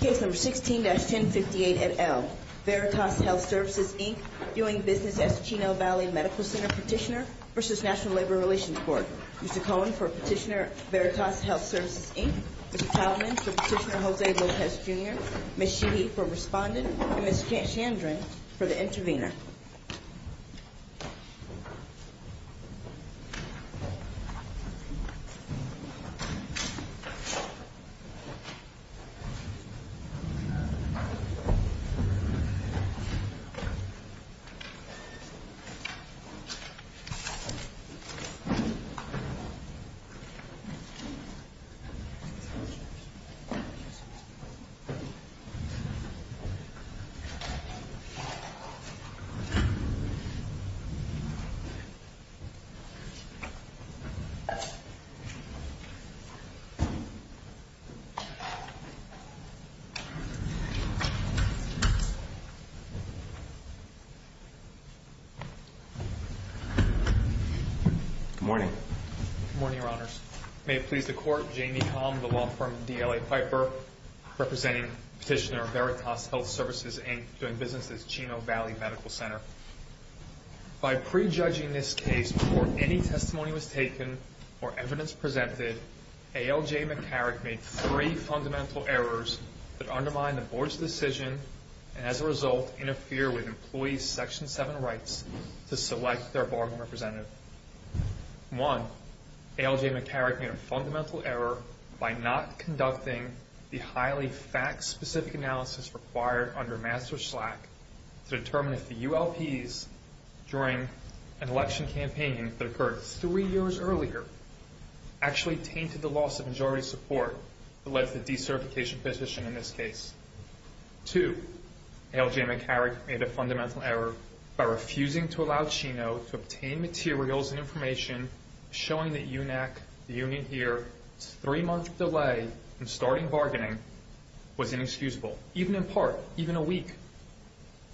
Case No. 16-1058 et al. Veritas Health Services, Inc. Viewing business as Chino Valley Medical Center Petitioner v. National Labor Relations Board Mr. Cohen for Petitioner Veritas Health Services, Inc. Mr. Taubman for Petitioner Jose Lopez, Jr. Ms. Sheehy for Respondent and Ms. Chandran for the Intervenor Good morning. Good morning, Your Honors. May it please the Court, Jane Niecom, the law firm DLA Piper, representing Petitioner Veritas Health Services, Inc. doing business as Chino Valley Medical Center. By prejudging this case before any testimony was taken or evidence presented, A. L. J. McCarrick made three fundamental errors that undermined the Board's decision and as a result interfere with employees' Section 7 rights to select their bargaining representative. One, A. L. J. McCarrick made a fundamental error by not conducting the highly fact-specific analysis required under Master Slack to determine if the ULPs during an election campaign that occurred three years earlier actually tainted the loss of majority support that led to the decertification petition in this case. Two, A. L. J. McCarrick made a fundamental error by refusing to allow Chino to obtain materials and information showing that UNAC, the union here, its three-month delay in starting bargaining was inexcusable. Even in part, even a week,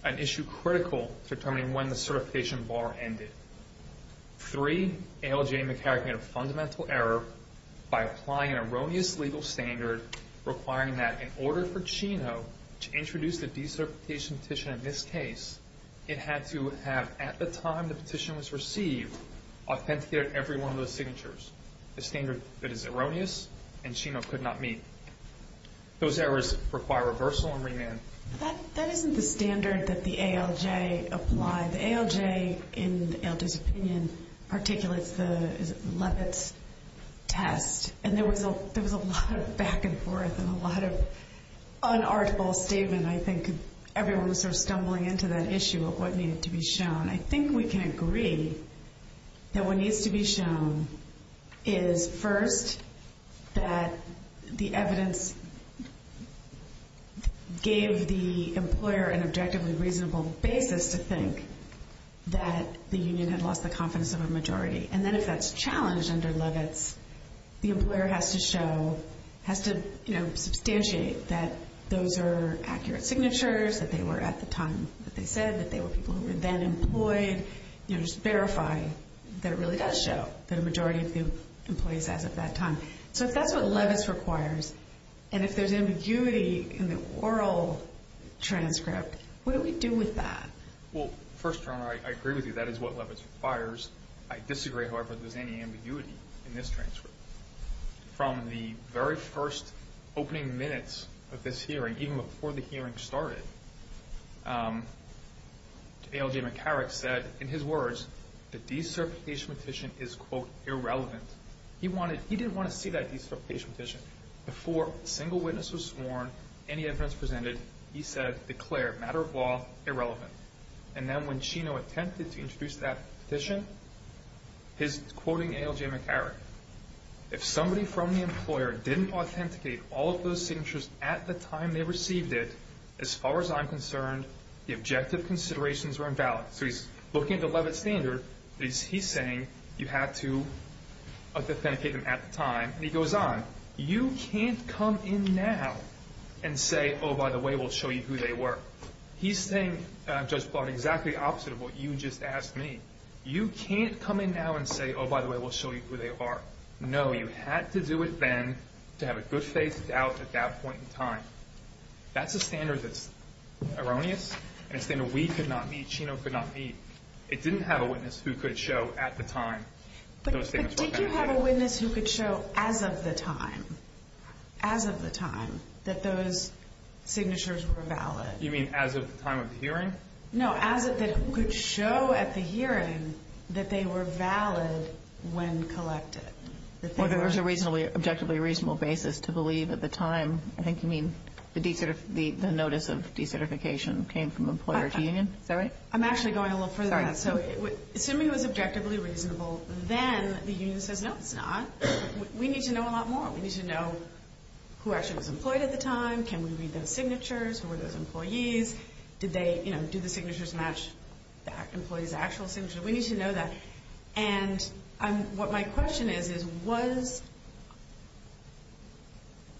an issue critical to determining when the certification bar ended. Three, A. L. J. McCarrick made a fundamental error by applying an erroneous legal standard requiring that in order for Chino to introduce the decertification petition in this case, it had to have, at the time the petition was received, authenticated every one of those signatures. A standard that is erroneous and Chino could not meet. Those errors require reversal and remand. That isn't the standard that the A. L. J. applied. The A. L. J. in Elda's opinion articulates the Levitt's test and there was a lot of back and forth and a lot of unarticulable statement. I think everyone was sort of stumbling into that issue of what needed to be shown. I think we can agree that what needs to be shown is first that the evidence gave the employer an objectively reasonable basis to think that the union had lost the confidence of a majority. And then if that's challenged under Levitt's, the employer has to show, has to, you know, substantiate that those are accurate signatures, that they were at the time that they said, that they were people who were then employed. You know, just verify that it really does show that a majority of the employees as of that time. So if that's what Levitt's requires and if there's ambiguity in the oral transcript, what do we do with that? Well, first, Your Honor, I agree with you. That is what Levitt's requires. I disagree, however, if there's any ambiguity in this transcript. From the very first opening minutes of this hearing, even before the hearing started, A. L. J. McCarrick said in his words the deserpitation petition is, quote, irrelevant. He wanted, he didn't want to see that deserpitation petition. Before a single witness was sworn, any evidence presented, he said, declare, matter of law, irrelevant. And then when Chino attempted to introduce that petition, his quoting A. L. J. McCarrick, if somebody from the employer didn't authenticate all of those signatures at the time they received it, as far as I'm concerned, the objective considerations were invalid. So he's looking at the Levitt standard, but he's saying you have to authenticate them at the time. And he goes on, you can't come in now and say, oh, by the way, we'll show you who they were. He's saying, Judge Plott, exactly opposite of what you just asked me. You can't come in now and say, oh, by the way, we'll show you who they are. No, you had to do it then to have a good faith doubt at that point in time. That's a standard that's erroneous, and it's a standard we could not meet, Chino could not meet. It didn't have a witness who could show at the time those statements were authenticated. Well, did you have a witness who could show as of the time, as of the time, that those signatures were valid? You mean as of the time of the hearing? No, as it could show at the hearing that they were valid when collected. Well, there was a reasonably, objectively reasonable basis to believe at the time. I think you mean the notice of decertification came from employer to union. Is that right? I'm actually going a little further than that. Assuming it was objectively reasonable, then the union says, no, it's not. We need to know a lot more. We need to know who actually was employed at the time. Can we read those signatures? Who were those employees? Did the signatures match the employees' actual signatures? We need to know that. And what my question is, is was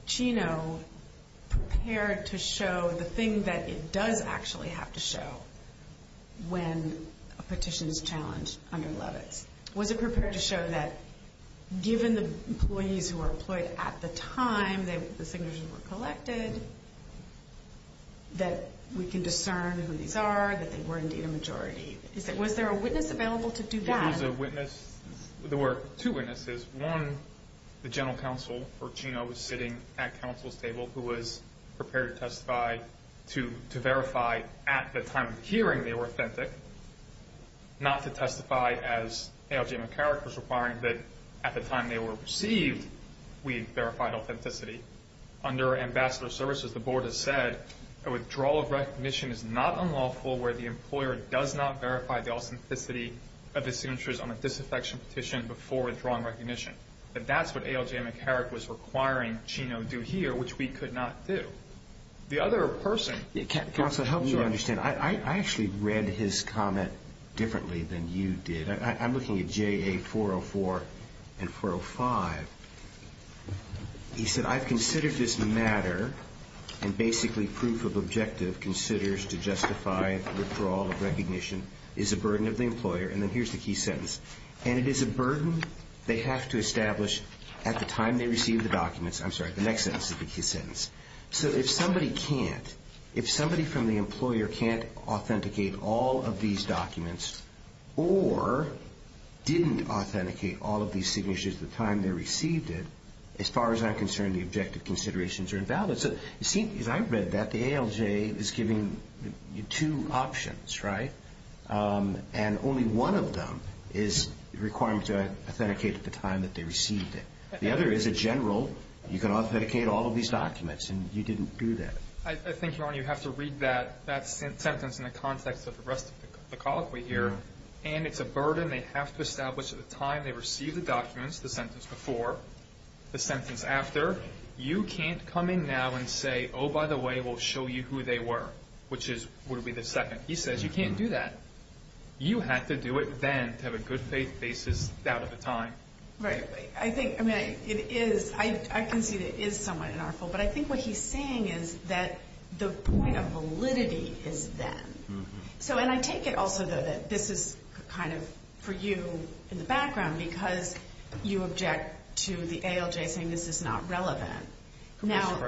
Chino prepared to show the thing that it does actually have to show when a petition is challenged under Levitz? Was it prepared to show that given the employees who were employed at the time the signatures were collected, that we can discern who these are, that they were indeed a majority? Was there a witness available to do that? There was a witness. There were two witnesses. One, the general counsel, where Chino was sitting at counsel's table, who was prepared to testify to verify at the time of hearing they were authentic, not to testify as A.L.J. McCarrick was requiring that at the time they were received we verified authenticity. Under ambassador services, the board has said a withdrawal of recognition is not unlawful where the employer does not verify the authenticity of the signatures on a disaffection petition before withdrawing recognition. That that's what A.L.J. McCarrick was requiring Chino do here, which we could not do. The other person... Counsel, to help you understand, I actually read his comment differently than you did. I'm looking at J.A. 404 and 405. He said, I've considered this matter and basically proof of objective considers to justify withdrawal of recognition is a burden of the employer. And then here's the key sentence. And it is a burden they have to establish at the time they receive the documents. I'm sorry, the next sentence is the key sentence. So if somebody can't, if somebody from the employer can't authenticate all of these documents or didn't authenticate all of these signatures at the time they received it, as far as I'm concerned, the objective considerations are invalid. So you see, as I read that, the A.L.J. is giving you two options, right? And only one of them is the requirement to authenticate at the time that they received it. The other is a general, you can authenticate all of these documents, and you didn't do that. I think, Your Honor, you have to read that sentence in the context of the rest of the colloquy here. And it's a burden they have to establish at the time they received the documents, the sentence before, the sentence after. You can't come in now and say, oh, by the way, we'll show you who they were, which would be the second. He says you can't do that. You had to do it then to have a good faith basis out of the time. Right. I think, I mean, it is, I can see that it is somewhat unlawful. But I think what he's saying is that the point of validity is then. So, and I take it also, though, that this is kind of for you in the background because you object to the A.L.J. saying this is not relevant. Now,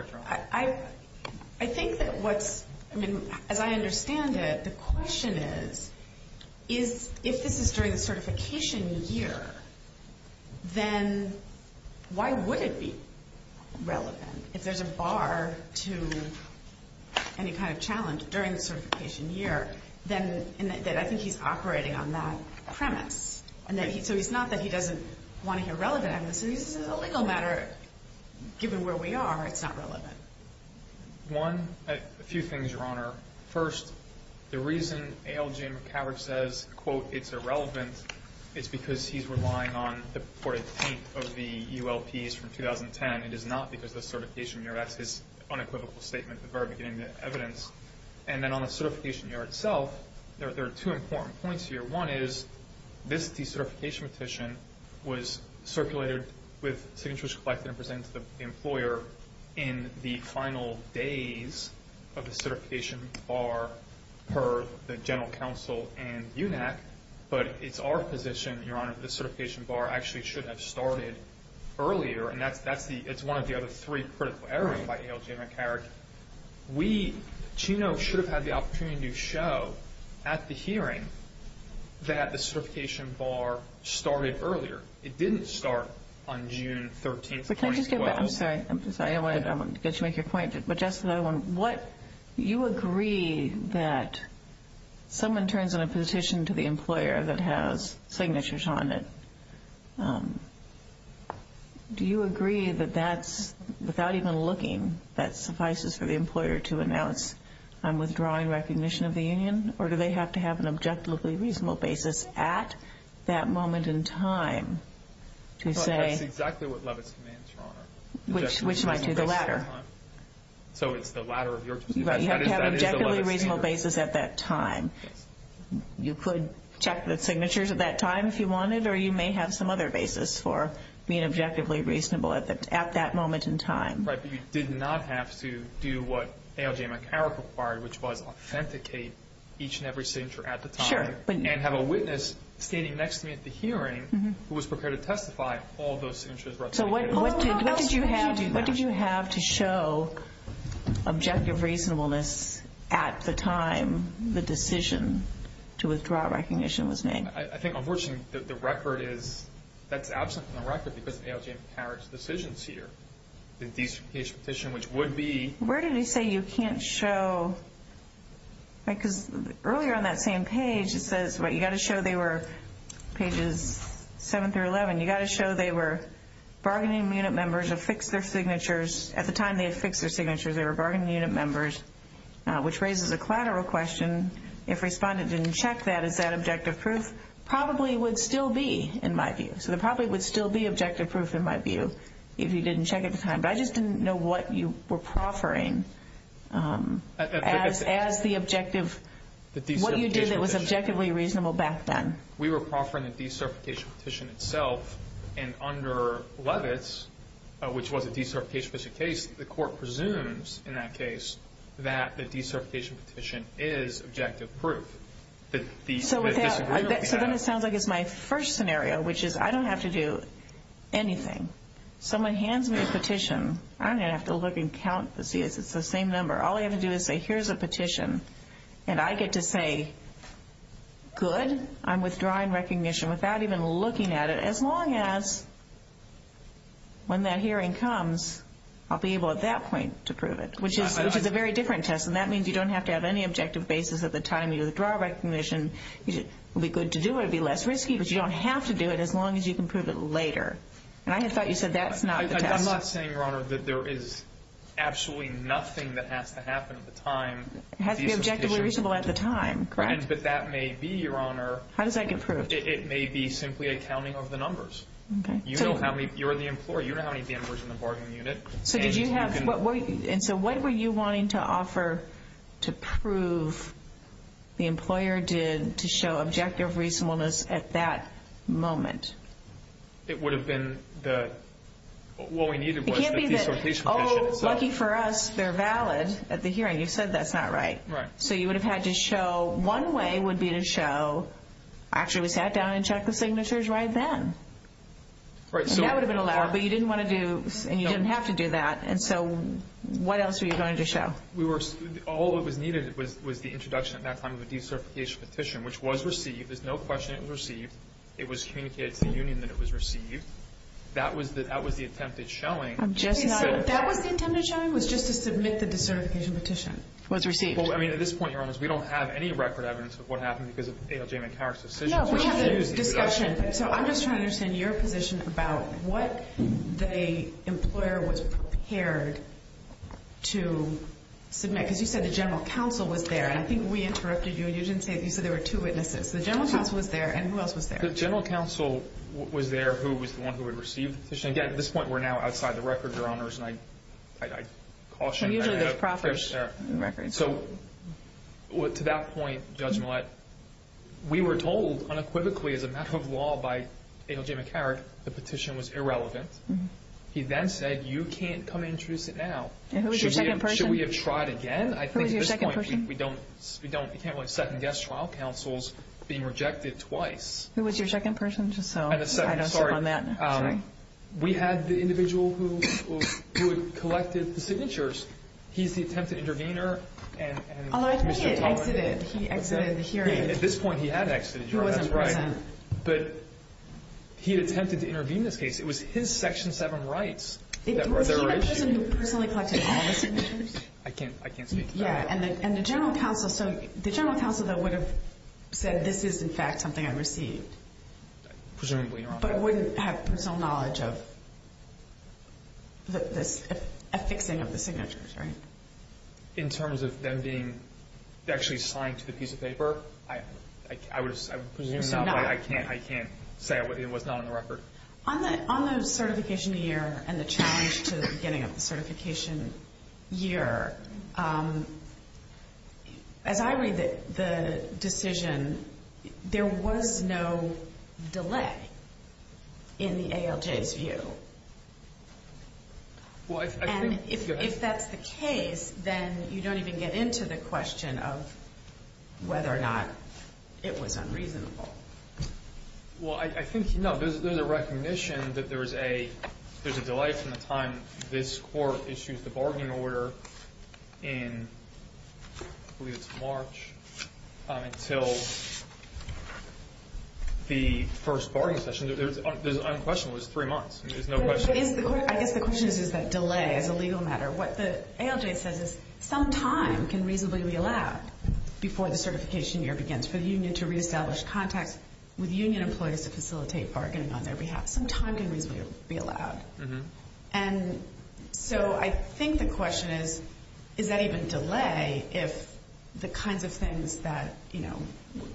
I think that what's, I mean, as I understand it, the question is, is if this is during the certification year, then why would it be relevant? If there's a bar to any kind of challenge during the certification year, then I think he's operating on that premise. So it's not that he doesn't want to hear relevant evidence. This is a legal matter. Given where we are, it's not relevant. One, a few things, Your Honor. First, the reason A.L.J. McCowrick says, quote, it's irrelevant, is because he's relying on the reported paint of the ULPs from 2010. It is not because of the certification year. That's his unequivocal statement at the very beginning of the evidence. And then on the certification year itself, there are two important points here. One is this decertification petition was circulated with signatures collected and presented to the employer in the final days of the certification bar per the general counsel and UNAC. But it's our position, Your Honor, that the certification bar actually should have started earlier. And that's the, it's one of the other three critical areas by A.L.J. McCowrick. We, Chino, should have had the opportunity to show at the hearing that the certification bar started earlier. It didn't start on June 13, 2012. But can I just get back? I'm sorry. I wanted to get you to make your point. But just another one. What, you agree that someone turns in a petition to the employer that has signatures on it. Do you agree that that's, without even looking, that suffices for the employer to announce I'm withdrawing recognition of the union? Or do they have to have an objectively reasonable basis at that moment in time to say. That's exactly what Levitz commands, Your Honor. Which might be the latter. So it's the latter of your. You have to have an objectively reasonable basis at that time. You could check the signatures at that time if you wanted, or you may have some other basis for being objectively reasonable at that moment in time. Right. But you did not have to do what A.L.J. McCowrick required, which was authenticate each and every signature at the time. Sure. And have a witness standing next to me at the hearing who was prepared to testify all those signatures. So what did you have to show objective reasonableness at the time the decision to withdraw recognition was made? I think, unfortunately, the record is, that's absent from the record because A.L.J. McCowrick's decisions here. The decertification petition, which would be. Where did he say you can't show, because earlier on that same page it says, you've got to show they were pages 7 through 11. You've got to show they were bargaining unit members, affixed their signatures. At the time they affixed their signatures, they were bargaining unit members, which raises a collateral question. If respondent didn't check that, is that objective proof? Probably would still be, in my view. So there probably would still be objective proof, in my view, if he didn't check at the time. But I just didn't know what you were proffering as the objective. What you did that was objectively reasonable back then. We were proffering the decertification petition itself. And under Levitz, which was a decertification petition case, the court presumes in that case that the decertification petition is objective proof. So then it sounds like it's my first scenario, which is I don't have to do anything. Someone hands me a petition. I don't even have to look and count to see if it's the same number. All I have to do is say, here's a petition. And I get to say, good, I'm withdrawing recognition without even looking at it as long as when that hearing comes, I'll be able at that point to prove it, which is a very different test. And that means you don't have to have any objective basis at the time you withdraw recognition. It would be good to do it. It would be less risky, but you don't have to do it as long as you can prove it later. And I thought you said that's not the test. I'm not saying, Your Honor, that there is absolutely nothing that has to happen at the time. It has to be objectively reasonable at the time, correct. But that may be, Your Honor. How does that get proved? It may be simply a counting of the numbers. Okay. You know how many, you're the employer, you know how many members in the bargaining unit. So did you have, and so what were you wanting to offer to prove the employer did to show objective reasonableness at that moment? It would have been the, what we needed was the decertification petition itself. It can't be the, oh, lucky for us, they're valid at the hearing. Okay, you said that's not right. Right. So you would have had to show, one way would be to show, actually we sat down and checked the signatures right then. And that would have been allowed, but you didn't want to do, and you didn't have to do that. And so what else were you going to show? All that was needed was the introduction at that time of a decertification petition, which was received, there's no question it was received. It was communicated to the union that it was received. That was the attempt at showing. That was the attempt at showing? It was just to submit the decertification petition. It was received. Well, I mean, at this point, Your Honors, we don't have any record evidence of what happened because of ALJ McHarrick's decision. No, we have a discussion. So I'm just trying to understand your position about what the employer was prepared to submit. Because you said the general counsel was there, and I think we interrupted you. You didn't say, you said there were two witnesses. The general counsel was there, and who else was there? The general counsel was there who was the one who had received the petition. Again, at this point, we're now outside the record, Your Honors, and I caution you. Usually there's proper records. So to that point, Judge Millett, we were told unequivocally as a matter of law by ALJ McHarrick the petition was irrelevant. He then said, you can't come in and introduce it now. And who was your second person? Should we have tried again? Who was your second person? I think at this point we can't have second guest trial counsels being rejected twice. Who was your second person? Just so I don't step on that. We had the individual who collected the signatures. He's the attempted intervener. Although I think he had exited. He exited the hearing. At this point, he had exited, Your Honor. He wasn't present. But he attempted to intervene in this case. It was his Section 7 rights that were there. Was he the person who personally collected all the signatures? I can't speak to that. And the general counsel, so the general counsel, though, would have said this is, in fact, something I received. Presumably, Your Honor. But wouldn't have personal knowledge of the affixing of the signatures, right? In terms of them being actually signed to the piece of paper? I would assume so, but I can't say it was not on the record. On the certification year and the challenge to getting up the certification year, as I read the decision, there was no delay in the ALJ's view. And if that's the case, then you don't even get into the question of whether or not it was unreasonable. Well, I think, you know, there's a recognition that there's a delay from the time this court issued the bargaining order in, I believe it's March, until the first bargaining session. There's unquestionable. It was three months. There's no question. I guess the question is, is that delay is a legal matter. What the ALJ says is some time can reasonably be allowed before the certification year begins for the union to reestablish contacts with union employees to facilitate bargaining on their behalf. Some time can reasonably be allowed. And so I think the question is, is that even delay if the kinds of things that, you know,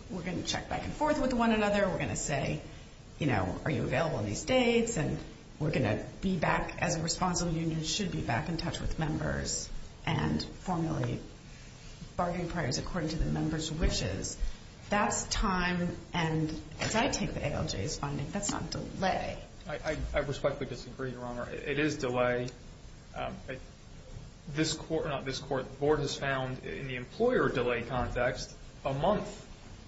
we're going to check back and forth with one another, we're going to say, you know, are you available on these dates and we're going to be back as a responsible union, and should be back in touch with members and formulate bargaining priorities according to the members' wishes. That's time. And as I take the ALJ's finding, that's not delay. I respectfully disagree, Your Honor. It is delay. This court, not this court, the board has found in the employer delay context, a month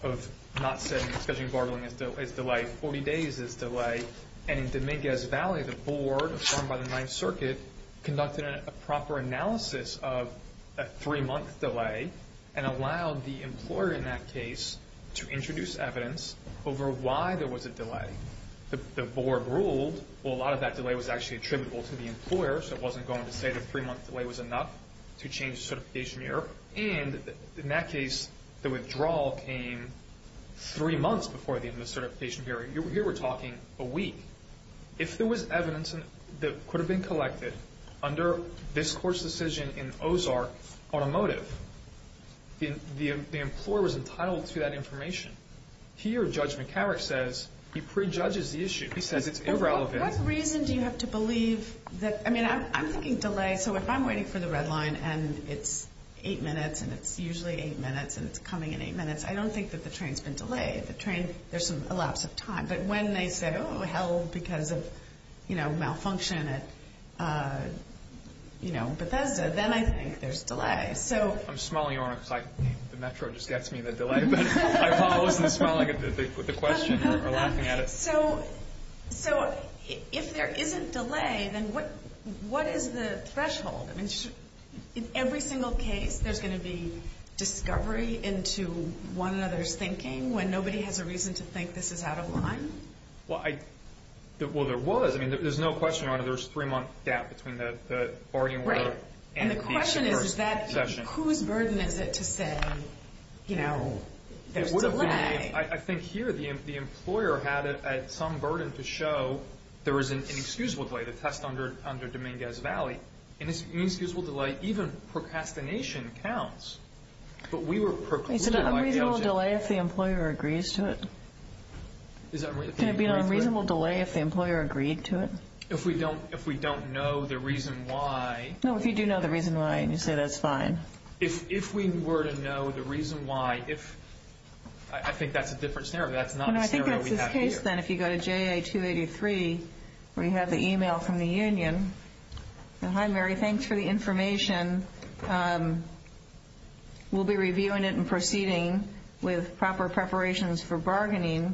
of not setting and scheduling bargaining is delay. Forty days is delay. And in Dominguez Valley, the board formed by the Ninth Circuit conducted a proper analysis of a three-month delay and allowed the employer in that case to introduce evidence over why there was a delay. The board ruled, well, a lot of that delay was actually attributable to the employer, so it wasn't going to say the three-month delay was enough to change the certification year. And in that case, the withdrawal came three months before the end of the certification period. Here we're talking a week. If there was evidence that could have been collected under this court's decision in Ozark Automotive, the employer was entitled to that information. Here, Judge McCarrick says he prejudges the issue. He says it's irrelevant. What reason do you have to believe that, I mean, I'm thinking delay, so if I'm waiting for the red line and it's eight minutes and it's usually eight minutes and it's coming in eight minutes, I don't think that the train's been delayed. If the train, there's some elapse of time. But when they said, oh, hell, because of, you know, malfunction at, you know, Bethesda, then I think there's delay. So. I'm smiling, Your Honor, because the Metro just gets me the delay, but I wasn't smiling at the question or laughing at it. So if there isn't delay, then what is the threshold? In every single case, there's going to be discovery into one another's thinking when nobody has a reason to think this is out of line? Well, there was. I mean, there's no question, Your Honor, there's a three-month gap between the bargaining order. Right. And the question is, whose burden is it to say, you know, there's delay? I think here the employer had some burden to show there is an inexcusable delay, the test under Dominguez Valley. And this inexcusable delay, even procrastination counts. But we were precluded by the LGA. It's an unreasonable delay if the employer agrees to it. Can it be an unreasonable delay if the employer agreed to it? If we don't know the reason why. No, if you do know the reason why and you say that's fine. If we were to know the reason why, if, I think that's a different scenario. That's not the scenario we have here. First, then, if you go to JA 283 where you have the e-mail from the union. Hi, Mary, thanks for the information. We'll be reviewing it and proceeding with proper preparations for bargaining.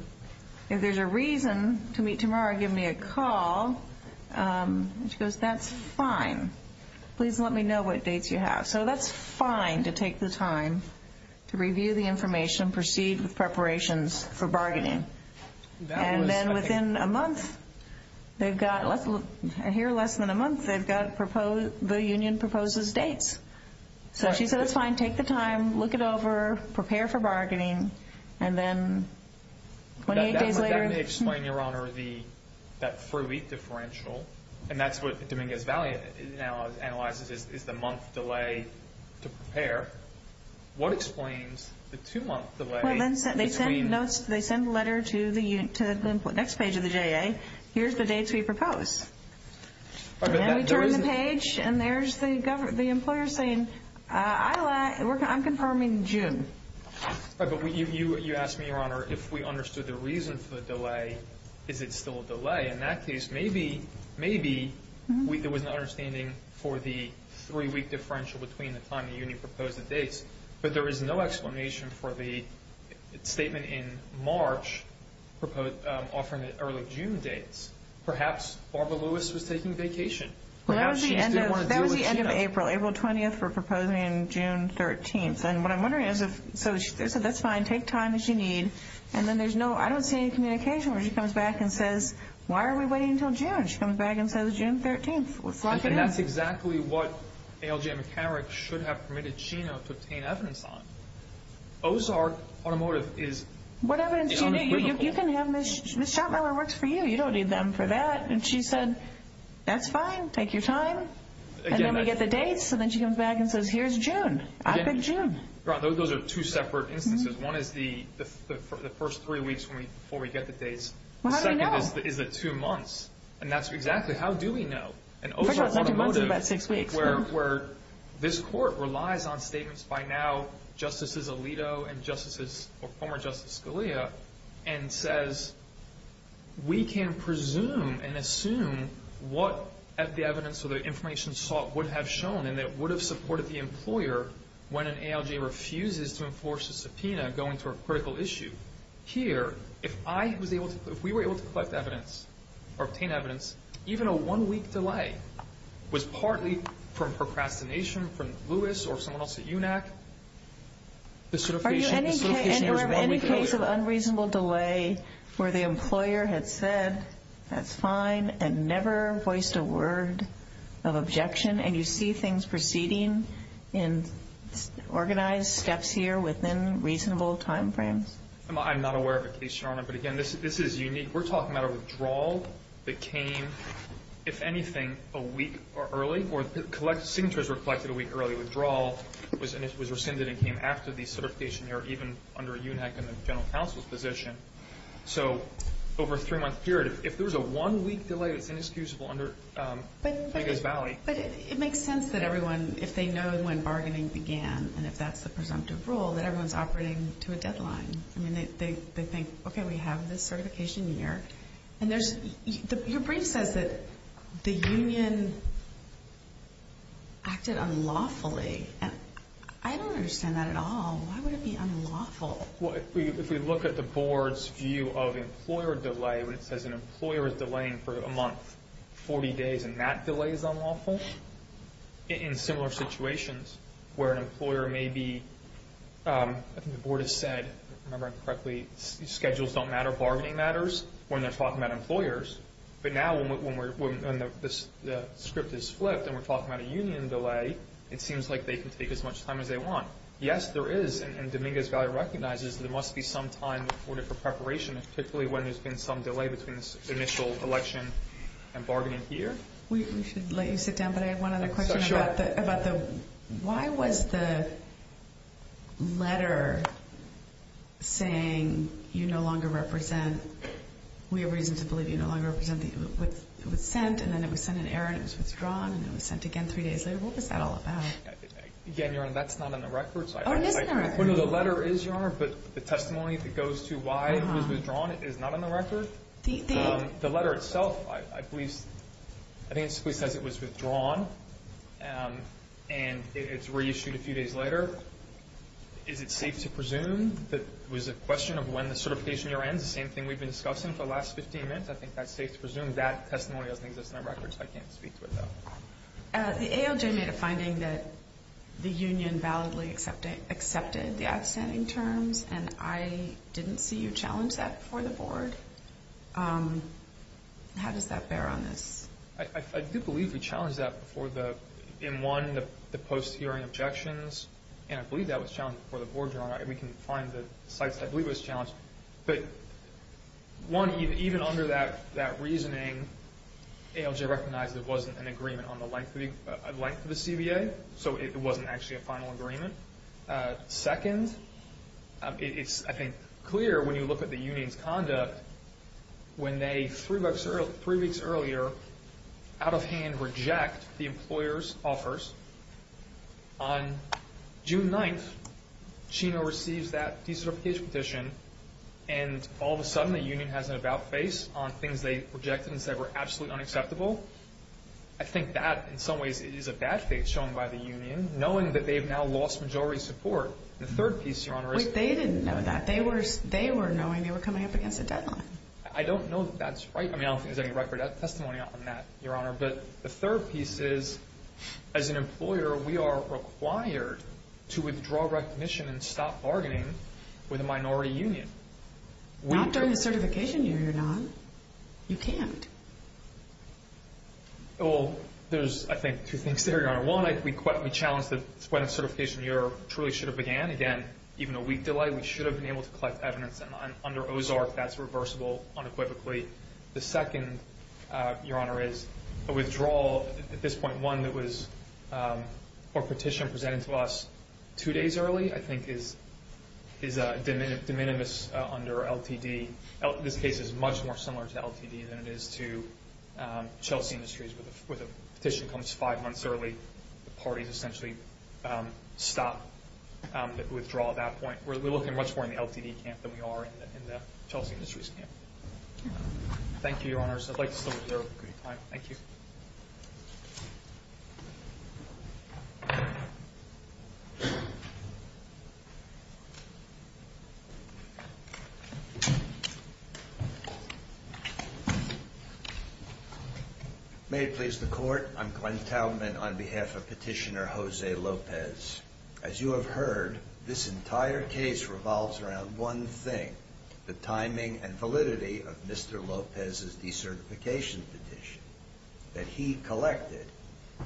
If there's a reason to meet tomorrow, give me a call. She goes, that's fine. Please let me know what dates you have. So that's fine to take the time to review the information, proceed with preparations for bargaining. And then within a month, they've got less than a month, they've got the union proposes dates. So she said it's fine, take the time, look it over, prepare for bargaining. And then 28 days later. Let me explain, Your Honor, that free week differential. And that's what Dominguez Valley now analyzes is the month delay to prepare. What explains the two-month delay? They send a letter to the next page of the JA. Here's the dates we propose. And then we turn the page and there's the employer saying, I'm confirming June. But you asked me, Your Honor, if we understood the reason for the delay, is it still a delay? In that case, maybe there was an understanding for the three-week differential between the time the union proposed the dates, but there is no explanation for the statement in March offering the early June dates. Perhaps Barbara Lewis was taking vacation. That was the end of April, April 20th, for proposing June 13th. And what I'm wondering is, so they said that's fine, take time as you need, and then there's no, I don't see any communication where she comes back and says, Why are we waiting until June? She comes back and says, June 13th, let's lock it in. And that's exactly what ALJ McCarrick should have permitted Chino to obtain evidence on. Ozark Automotive is in the middle. What evidence do you need? You can have Ms. Schottmiller works for you. You don't need them for that. And she said, That's fine, take your time. And then we get the dates, and then she comes back and says, Here's June. I pick June. Those are two separate instances. One is the first three weeks before we get the dates. The second is the two months. And that's exactly how do we know? And Ozark Automotive, where this court relies on statements by now justices Alito and former Justice Scalia and says, We can presume and assume what the evidence or the information sought would have shown and that would have supported the employer when an ALJ refuses to enforce a subpoena going to a critical issue. Here, if I was able to, if we were able to collect evidence or obtain evidence, even a one-week delay was partly from procrastination from Lewis or someone else at UNAC. Are you any case of unreasonable delay where the employer had said, That's fine, and never voiced a word of objection? And you see things proceeding in organized steps here within reasonable time frames? I'm not aware of a case, Your Honor, but again, this is unique. We're talking about a withdrawal that came, if anything, a week early or signatures were collected a week early. Withdrawal was rescinded and came after the certification error, even under UNAC and the general counsel's position. So over a three-month period, if there was a one-week delay that's inexcusable But it makes sense that everyone, if they know when bargaining began and if that's the presumptive rule, that everyone's operating to a deadline. I mean, they think, Okay, we have this certification year. And your brief says that the union acted unlawfully. I don't understand that at all. Why would it be unlawful? Well, if we look at the board's view of employer delay, when it says an employer is delaying for a month, 40 days, and that delay is unlawful? In similar situations where an employer may be, I think the board has said, if I remember correctly, schedules don't matter, bargaining matters when they're talking about employers. But now when the script is flipped and we're talking about a union delay, it seems like they can take as much time as they want. Yes, there is, and Dominguez Valley recognizes there must be some time in order for preparation, particularly when there's been some delay between this initial election and bargaining year. We should let you sit down, but I have one other question. Sure. Why was the letter saying you no longer represent, we have reason to believe you no longer represent, it was sent and then it was sent in error and it was withdrawn and then it was sent again three days later? What was that all about? Oh, it is in the records. Well, no, the letter is, Your Honor, but the testimony that goes to why it was withdrawn is not on the record. The letter itself, I believe, I think it simply says it was withdrawn and it's reissued a few days later. Is it safe to presume that it was a question of when the certification year ends, the same thing we've been discussing for the last 15 minutes? I think that's safe to presume that testimony doesn't exist in our records. I can't speak to it, though. The ALJ made a finding that the union validly accepted the outstanding terms and I didn't see you challenge that before the Board. How does that bear on this? I do believe we challenged that in one, the post-hearing objections, and I believe that was challenged before the Board, Your Honor, but one, even under that reasoning, ALJ recognized there wasn't an agreement on the length of the CBA, so it wasn't actually a final agreement. Second, it's, I think, clear when you look at the union's conduct, when they, three weeks earlier, out of hand reject the employer's offers, on June 9th, Chino receives that decertification petition and all of a sudden the union has an about face on things they rejected and said were absolutely unacceptable. I think that, in some ways, is a bad face shown by the union, knowing that they've now lost majority support. The third piece, Your Honor, is they didn't know that. They were knowing they were coming up against a deadline. I don't know that that's right. I mean, I don't think there's any record of testimony on that, Your Honor, but the third piece is, as an employer, we are required to withdraw recognition and stop bargaining with a minority union. Not during the certification year, Your Honor. You can't. Well, there's, I think, two things there, Your Honor. One, we challenge that when a certification year truly should have began, again, even a week delay, we should have been able to collect evidence, and under OZARC that's reversible unequivocally. The second, Your Honor, is a withdrawal at this point, one that was a petition presented to us two days early, I think, is de minimis under LTD. This case is much more similar to LTD than it is to Chelsea Industries where the petition comes five months early, the parties essentially stop the withdrawal at that point. We're looking much more in the LTD camp than we are in the Chelsea Industries camp. Thank you, Your Honors. I'd like to stop there. Thank you. May it please the Court. I'm Glenn Taubman on behalf of Petitioner Jose Lopez. As you have heard, this entire case revolves around one thing, the timing and validity of Mr. Lopez's decertification petition that he collected,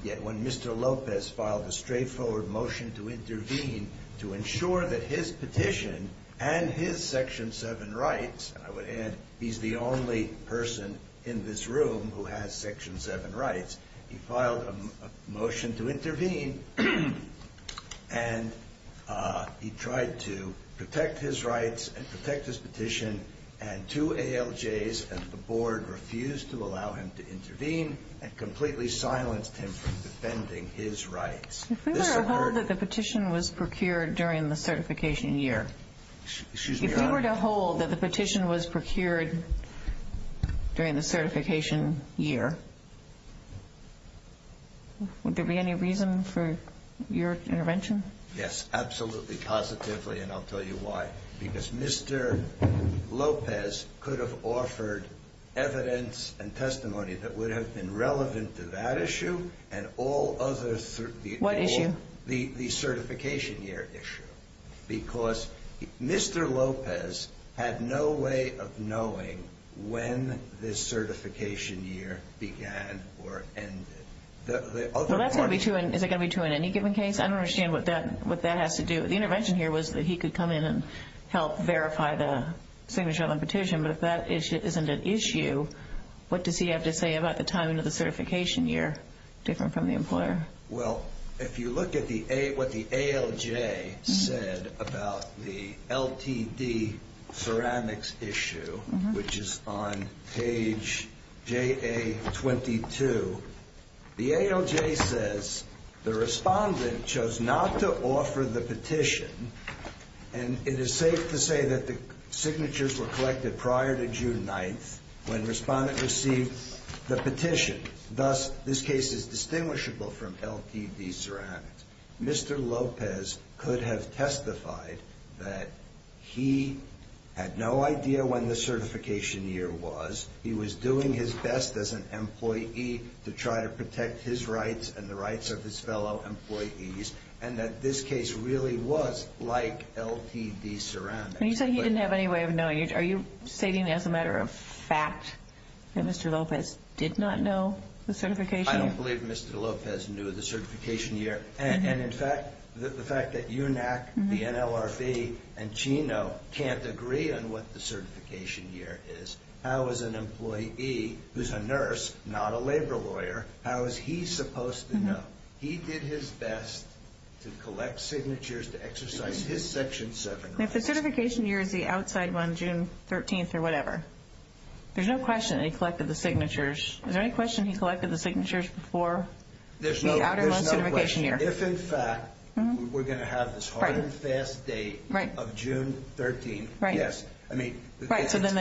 yet when Mr. Lopez filed a straightforward motion to intervene to ensure that his petition and his Section 7 rights, and I would add he's the only person in this room who has Section 7 rights, he filed a motion to intervene, and he tried to protect his rights and protect his petition, and two ALJs at the Board refused to allow him to intervene and completely silenced him from defending his rights. If we were to hold that the petition was procured during the certification year, If you were to hold that the petition was procured during the certification year, would there be any reason for your intervention? Yes, absolutely, positively, and I'll tell you why. Because Mr. Lopez could have offered evidence and testimony that would have been relevant to that issue and all other, What issue? the certification year issue, because Mr. Lopez had no way of knowing when this certification year began or ended. Is it going to be true in any given case? I don't understand what that has to do. The intervention here was that he could come in and help verify the signature on the petition, but if that issue isn't an issue, what does he have to say about the timing of the certification year, different from the employer? Well, if you look at what the ALJ said about the LTD ceramics issue, which is on page JA-22, the ALJ says the respondent chose not to offer the petition, and it is safe to say that the signatures were collected prior to June 9th when the respondent received the petition. Thus, this case is distinguishable from LTD ceramics. Mr. Lopez could have testified that he had no idea when the certification year was, he was doing his best as an employee to try to protect his rights and the rights of his fellow employees, and that this case really was like LTD ceramics. You say he didn't have any way of knowing. Are you stating as a matter of fact that Mr. Lopez did not know the certification year? I don't believe Mr. Lopez knew the certification year. And, in fact, the fact that UNAC, the NLRB, and Chino can't agree on what the certification year is, how is an employee who's a nurse, not a labor lawyer, how is he supposed to know? He did his best to collect signatures, to exercise his Section 7 rights. If the certification year is the outside one, June 13th or whatever, there's no question that he collected the signatures. Is there any question he collected the signatures before the outer one certification year? There's no question. If, in fact, we're going to have this hard and fast date of June 13th, yes. Right, so then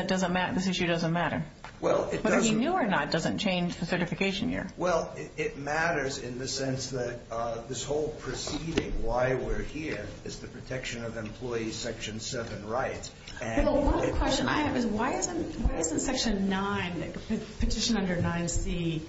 this issue doesn't matter. Whether he knew or not doesn't change the certification year. Well, it matters in the sense that this whole proceeding, why we're here, is the protection of employee's Section 7 rights. Well, the one question I have is why isn't Section 9, the petition under 9C,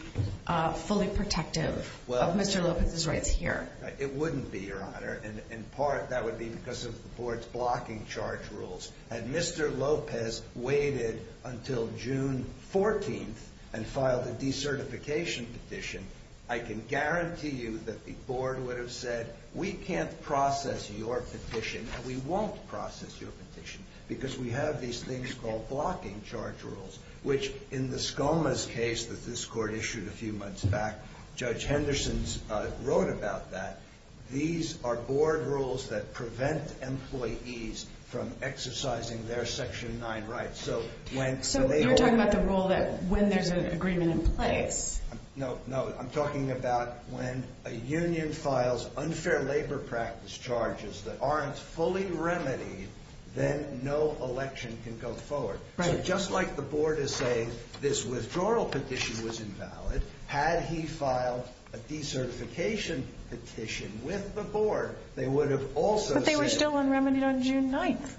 fully protective of Mr. Lopez's rights here? It wouldn't be, Your Honor. In part, that would be because of the Board's blocking charge rules. Had Mr. Lopez waited until June 14th and filed a decertification petition, I can guarantee you that the Board would have said, we can't process your petition and we won't process your petition because we have these things called blocking charge rules, which in the Skomas case that this Court issued a few months back, Judge Henderson wrote about that. These are Board rules that prevent employees from exercising their Section 9 rights. So you're talking about the rule that when there's an agreement in place. No, no. I'm talking about when a union files unfair labor practice charges that aren't fully remedied, then no election can go forward. So just like the Board is saying this withdrawal petition was invalid, had he filed a decertification petition with the Board, they would have also said. But they were still unremedied on June 9th.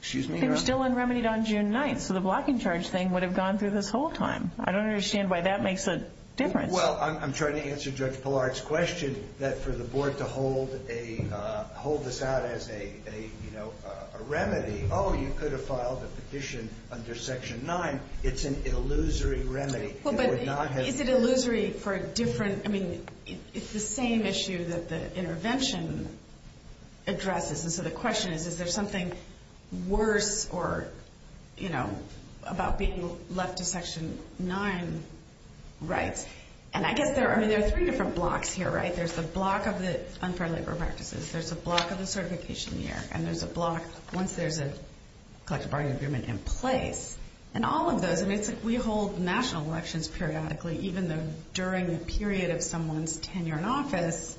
Excuse me, Your Honor? They were still unremedied on June 9th, so the blocking charge thing would have gone through this whole time. I don't understand why that makes a difference. Well, I'm trying to answer Judge Pillard's question, that for the Board to hold this out as a remedy. Oh, you could have filed a petition under Section 9. It's an illusory remedy. Is it illusory for a different? I mean, it's the same issue that the intervention addresses. And so the question is, is there something worse about being left to Section 9 rights? And I guess there are three different blocks here, right? There's the block of the unfair labor practices. There's a block of the certification year. And there's a block once there's a collective bargaining agreement in place. And all of those, I mean, we hold national elections periodically, even though during the period of someone's tenure in office,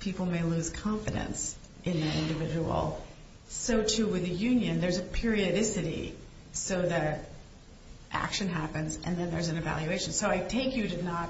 people may lose confidence in that individual. So, too, with a union, there's a periodicity, so that action happens and then there's an evaluation. So I take you to not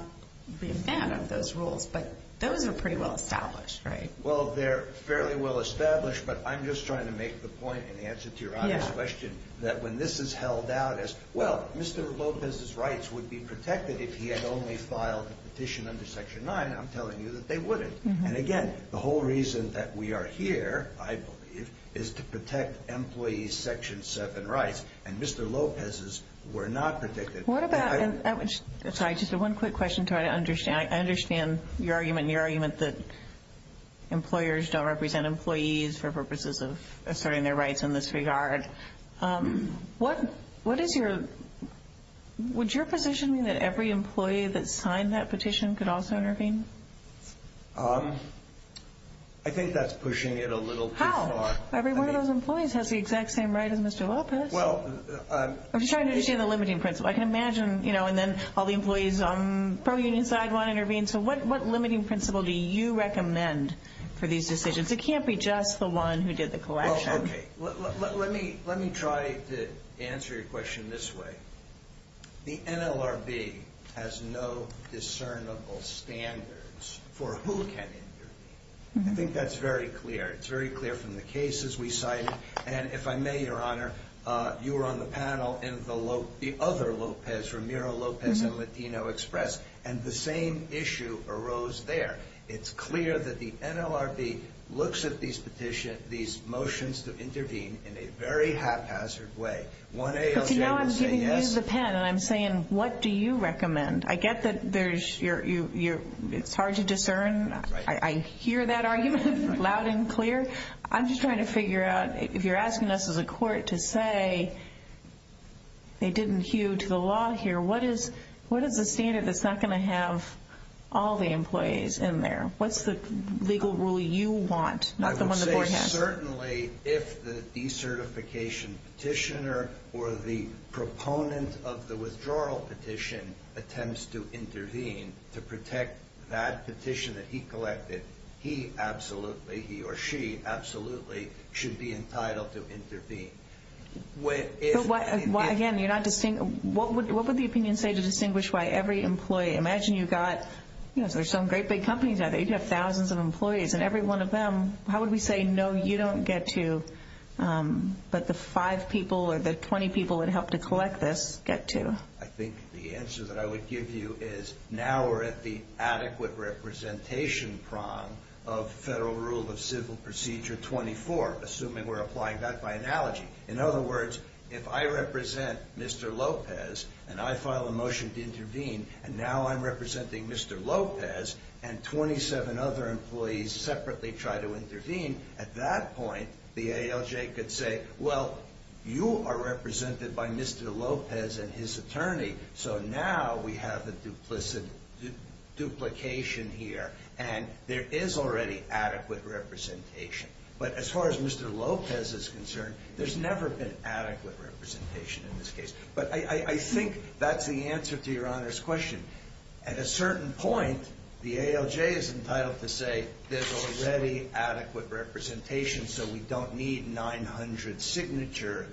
be a fan of those rules, but those are pretty well established, right? Well, they're fairly well established, but I'm just trying to make the point in answer to your audience question that when this is held out as, well, Mr. Lopez's rights would be protected if he had only filed a petition under Section 9. I'm telling you that they wouldn't. And, again, the whole reason that we are here, I believe, is to protect employees' Section 7 rights. And Mr. Lopez's were not protected. What about – sorry, just one quick question to try to understand. I understand your argument and your argument that employers don't represent employees for purposes of asserting their rights in this regard. What is your – would your position be that every employee that signed that petition could also intervene? I think that's pushing it a little too far. How? Every one of those employees has the exact same right as Mr. Lopez. I'm just trying to understand the limiting principle. I can imagine, you know, and then all the employees on the pro-union side want to intervene. So what limiting principle do you recommend for these decisions? It can't be just the one who did the collection. Well, okay, let me try to answer your question this way. The NLRB has no discernible standards for who can intervene. I think that's very clear. It's very clear from the cases we cited. And, if I may, Your Honor, you were on the panel in the other Lopez, Ramiro Lopez and Latino Express, and the same issue arose there. It's clear that the NLRB looks at these motions to intervene in a very haphazard way. But, you know, I'm using the pen, and I'm saying, what do you recommend? I get that it's hard to discern. I hear that argument loud and clear. I'm just trying to figure out, if you're asking us as a court to say they didn't hew to the law here, what is the standard that's not going to have all the employees in there? What's the legal rule you want, not the one the board has? Certainly, if the decertification petitioner or the proponent of the withdrawal petition attempts to intervene to protect that petition that he collected, he absolutely, he or she absolutely, should be entitled to intervene. Again, what would the opinion say to distinguish why every employee? Imagine you've got some great big companies out there. You have thousands of employees, and every one of them, how would we say, no, you don't get to, but the five people or the 20 people that helped to collect this get to? I think the answer that I would give you is, now we're at the adequate representation prong of Federal Rule of Civil Procedure 24, assuming we're applying that by analogy. In other words, if I represent Mr. Lopez and I file a motion to intervene, and now I'm representing Mr. Lopez, and 27 other employees separately try to intervene, at that point, the ALJ could say, well, you are represented by Mr. Lopez and his attorney, so now we have a duplication here, and there is already adequate representation. But as far as Mr. Lopez is concerned, there's never been adequate representation in this case. But I think that's the answer to Your Honor's question. At a certain point, the ALJ is entitled to say, there's already adequate representation, so we don't need 900 signature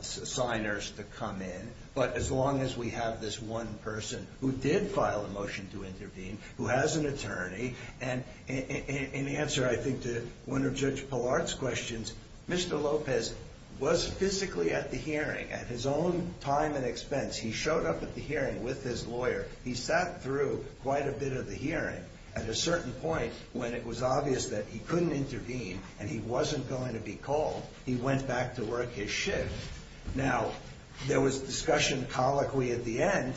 signers to come in, but as long as we have this one person who did file a motion to intervene, who has an attorney, and in answer, I think, to one of Judge Pollard's questions, Mr. Lopez was physically at the hearing at his own time and expense. He showed up at the hearing with his lawyer. He sat through quite a bit of the hearing. At a certain point, when it was obvious that he couldn't intervene and he wasn't going to be called, he went back to work his shift. Now, there was discussion colloquially at the end.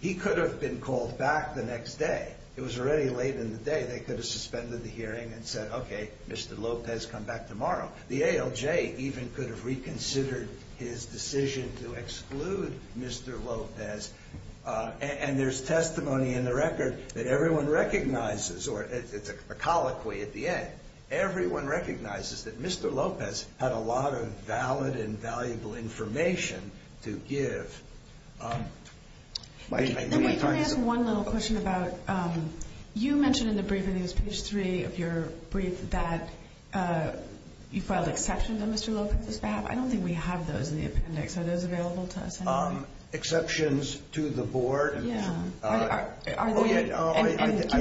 He could have been called back the next day. It was already late in the day. They could have suspended the hearing and said, okay, Mr. Lopez, come back tomorrow. The ALJ even could have reconsidered his decision to exclude Mr. Lopez, and there's testimony in the record that everyone recognizes, or it's a colloquy at the end. Everyone recognizes that Mr. Lopez had a lot of valid and valuable information to give. Let me ask one little question about you mentioned in the briefing, I think it was page 3 of your brief, that you filed exceptions on Mr. Lopez's behalf. I don't think we have those in the appendix. Are those available to us? Exceptions to the board. Can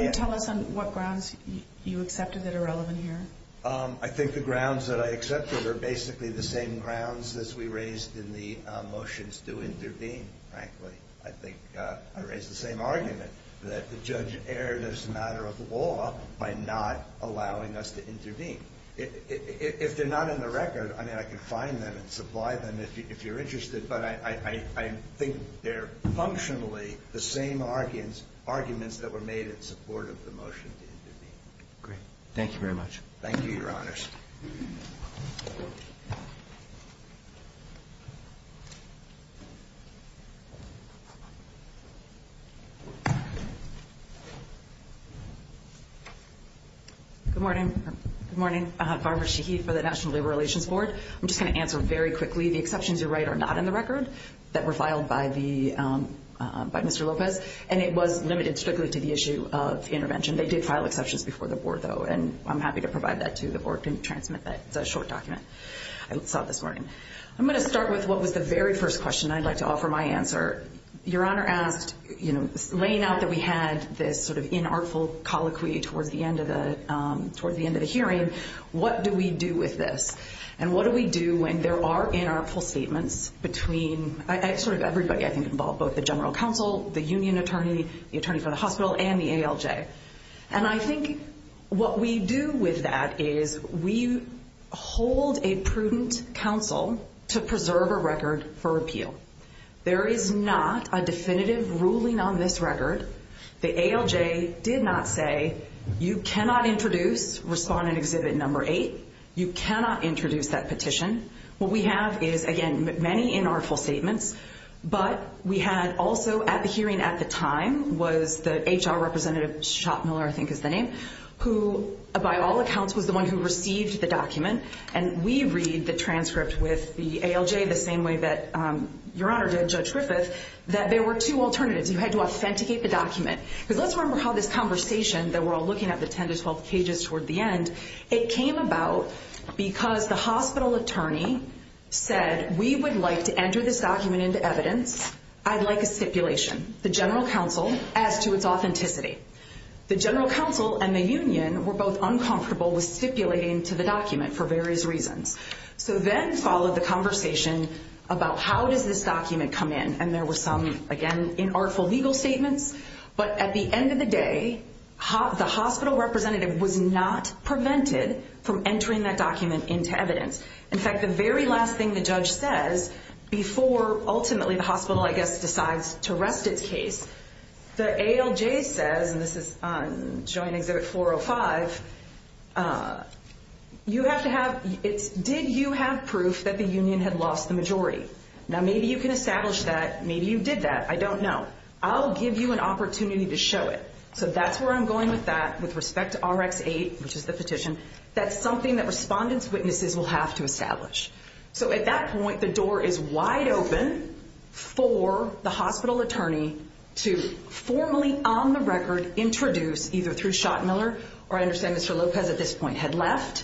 you tell us on what grounds you accepted that are relevant here? I think the grounds that I accepted are basically the same grounds as we raised in the motions to intervene, frankly. I think I raised the same argument, that the judge erred as a matter of law by not allowing us to intervene. If they're not in the record, I mean, I can find them and supply them if you're interested, but I think they're functionally the same arguments that were made in support of the motion to intervene. Great. Thank you very much. Thank you, Your Honors. Good morning. Good morning. Barbara Shaheed for the National Labor Relations Board. I'm just going to answer very quickly. The exceptions you write are not in the record that were filed by Mr. Lopez, and it was limited strictly to the issue of intervention. They did file exceptions before the board, though, and I'm happy to provide that to the board and transmit that. It's a short document. I saw it this morning. I'm going to start with what was the very first question I'd like to offer my answer. Your Honor asked, laying out that we had this sort of inartful colloquy towards the end of the hearing, what do we do with this? And what do we do when there are inartful statements between sort of everybody I think involved, both the general counsel, the union attorney, the attorney for the hospital, and the ALJ? And I think what we do with that is we hold a prudent counsel to preserve a record for repeal. There is not a definitive ruling on this record. The ALJ did not say, you cannot introduce respondent exhibit number eight. You cannot introduce that petition. What we have is, again, many inartful statements, but we had also at the hearing at the time was the HR representative, Schott Miller I think is the name, who by all accounts was the one who received the document, and we read the transcript with the ALJ the same way that Your Honor did, Judge Griffith, that there were two alternatives. You had to authenticate the document. Because let's remember how this conversation that we're all looking at, the 10 to 12 pages toward the end, it came about because the hospital attorney said, we would like to enter this document into evidence. I'd like a stipulation. The general counsel asked to its authenticity. The general counsel and the union were both uncomfortable with stipulating to the document for various reasons. So then followed the conversation about how does this document come in, and there were some, again, inartful legal statements. But at the end of the day, the hospital representative was not prevented from entering that document into evidence. In fact, the very last thing the judge says before ultimately the hospital, I guess, decides to rest its case, the ALJ says, and this is on Joint Exhibit 405, you have to have, did you have proof that the union had lost the majority? Now maybe you can establish that. Maybe you did that. I don't know. I'll give you an opportunity to show it. So that's where I'm going with that with respect to RX-8, which is the petition. That's something that respondent's witnesses will have to establish. So at that point, the door is wide open for the hospital attorney to formally, on the record, introduce, either through Schottmiller, or I understand Mr. Lopez at this point had left,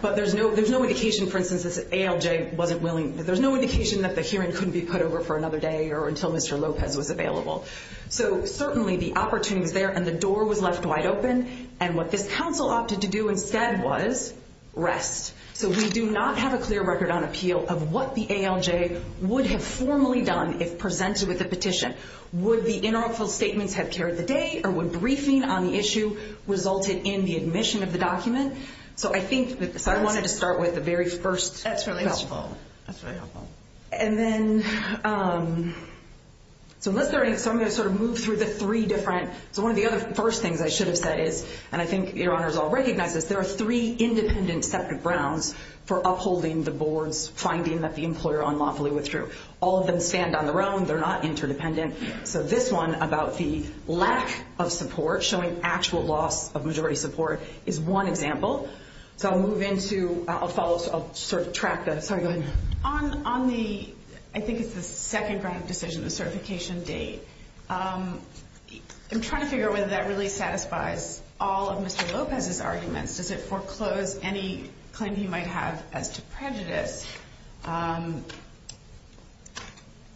but there's no indication, for instance, this ALJ wasn't willing, there's no indication that the hearing couldn't be put over for another day or until Mr. Lopez was available. So certainly the opportunity was there, and the door was left wide open, and what this counsel opted to do instead was rest. So we do not have a clear record on appeal of what the ALJ would have formally done if presented with a petition. Would the inaugural statements have carried the day, or would briefing on the issue resulted in the admission of the document? So I think I wanted to start with the very first question. That's really helpful. And then, so I'm going to sort of move through the three different, so one of the other first things I should have said is, and I think your honors all recognize this, there are three independent separate grounds for upholding the board's finding that the employer unlawfully withdrew. All of them stand on their own. They're not interdependent. So this one about the lack of support, showing actual loss of majority support, is one example. So I'll move into, I'll sort of track that. Sorry, go ahead. On the, I think it's the second ground decision, the certification date, I'm trying to figure out whether that really satisfies all of Mr. Lopez's arguments. Does it foreclose any claim he might have as to prejudice?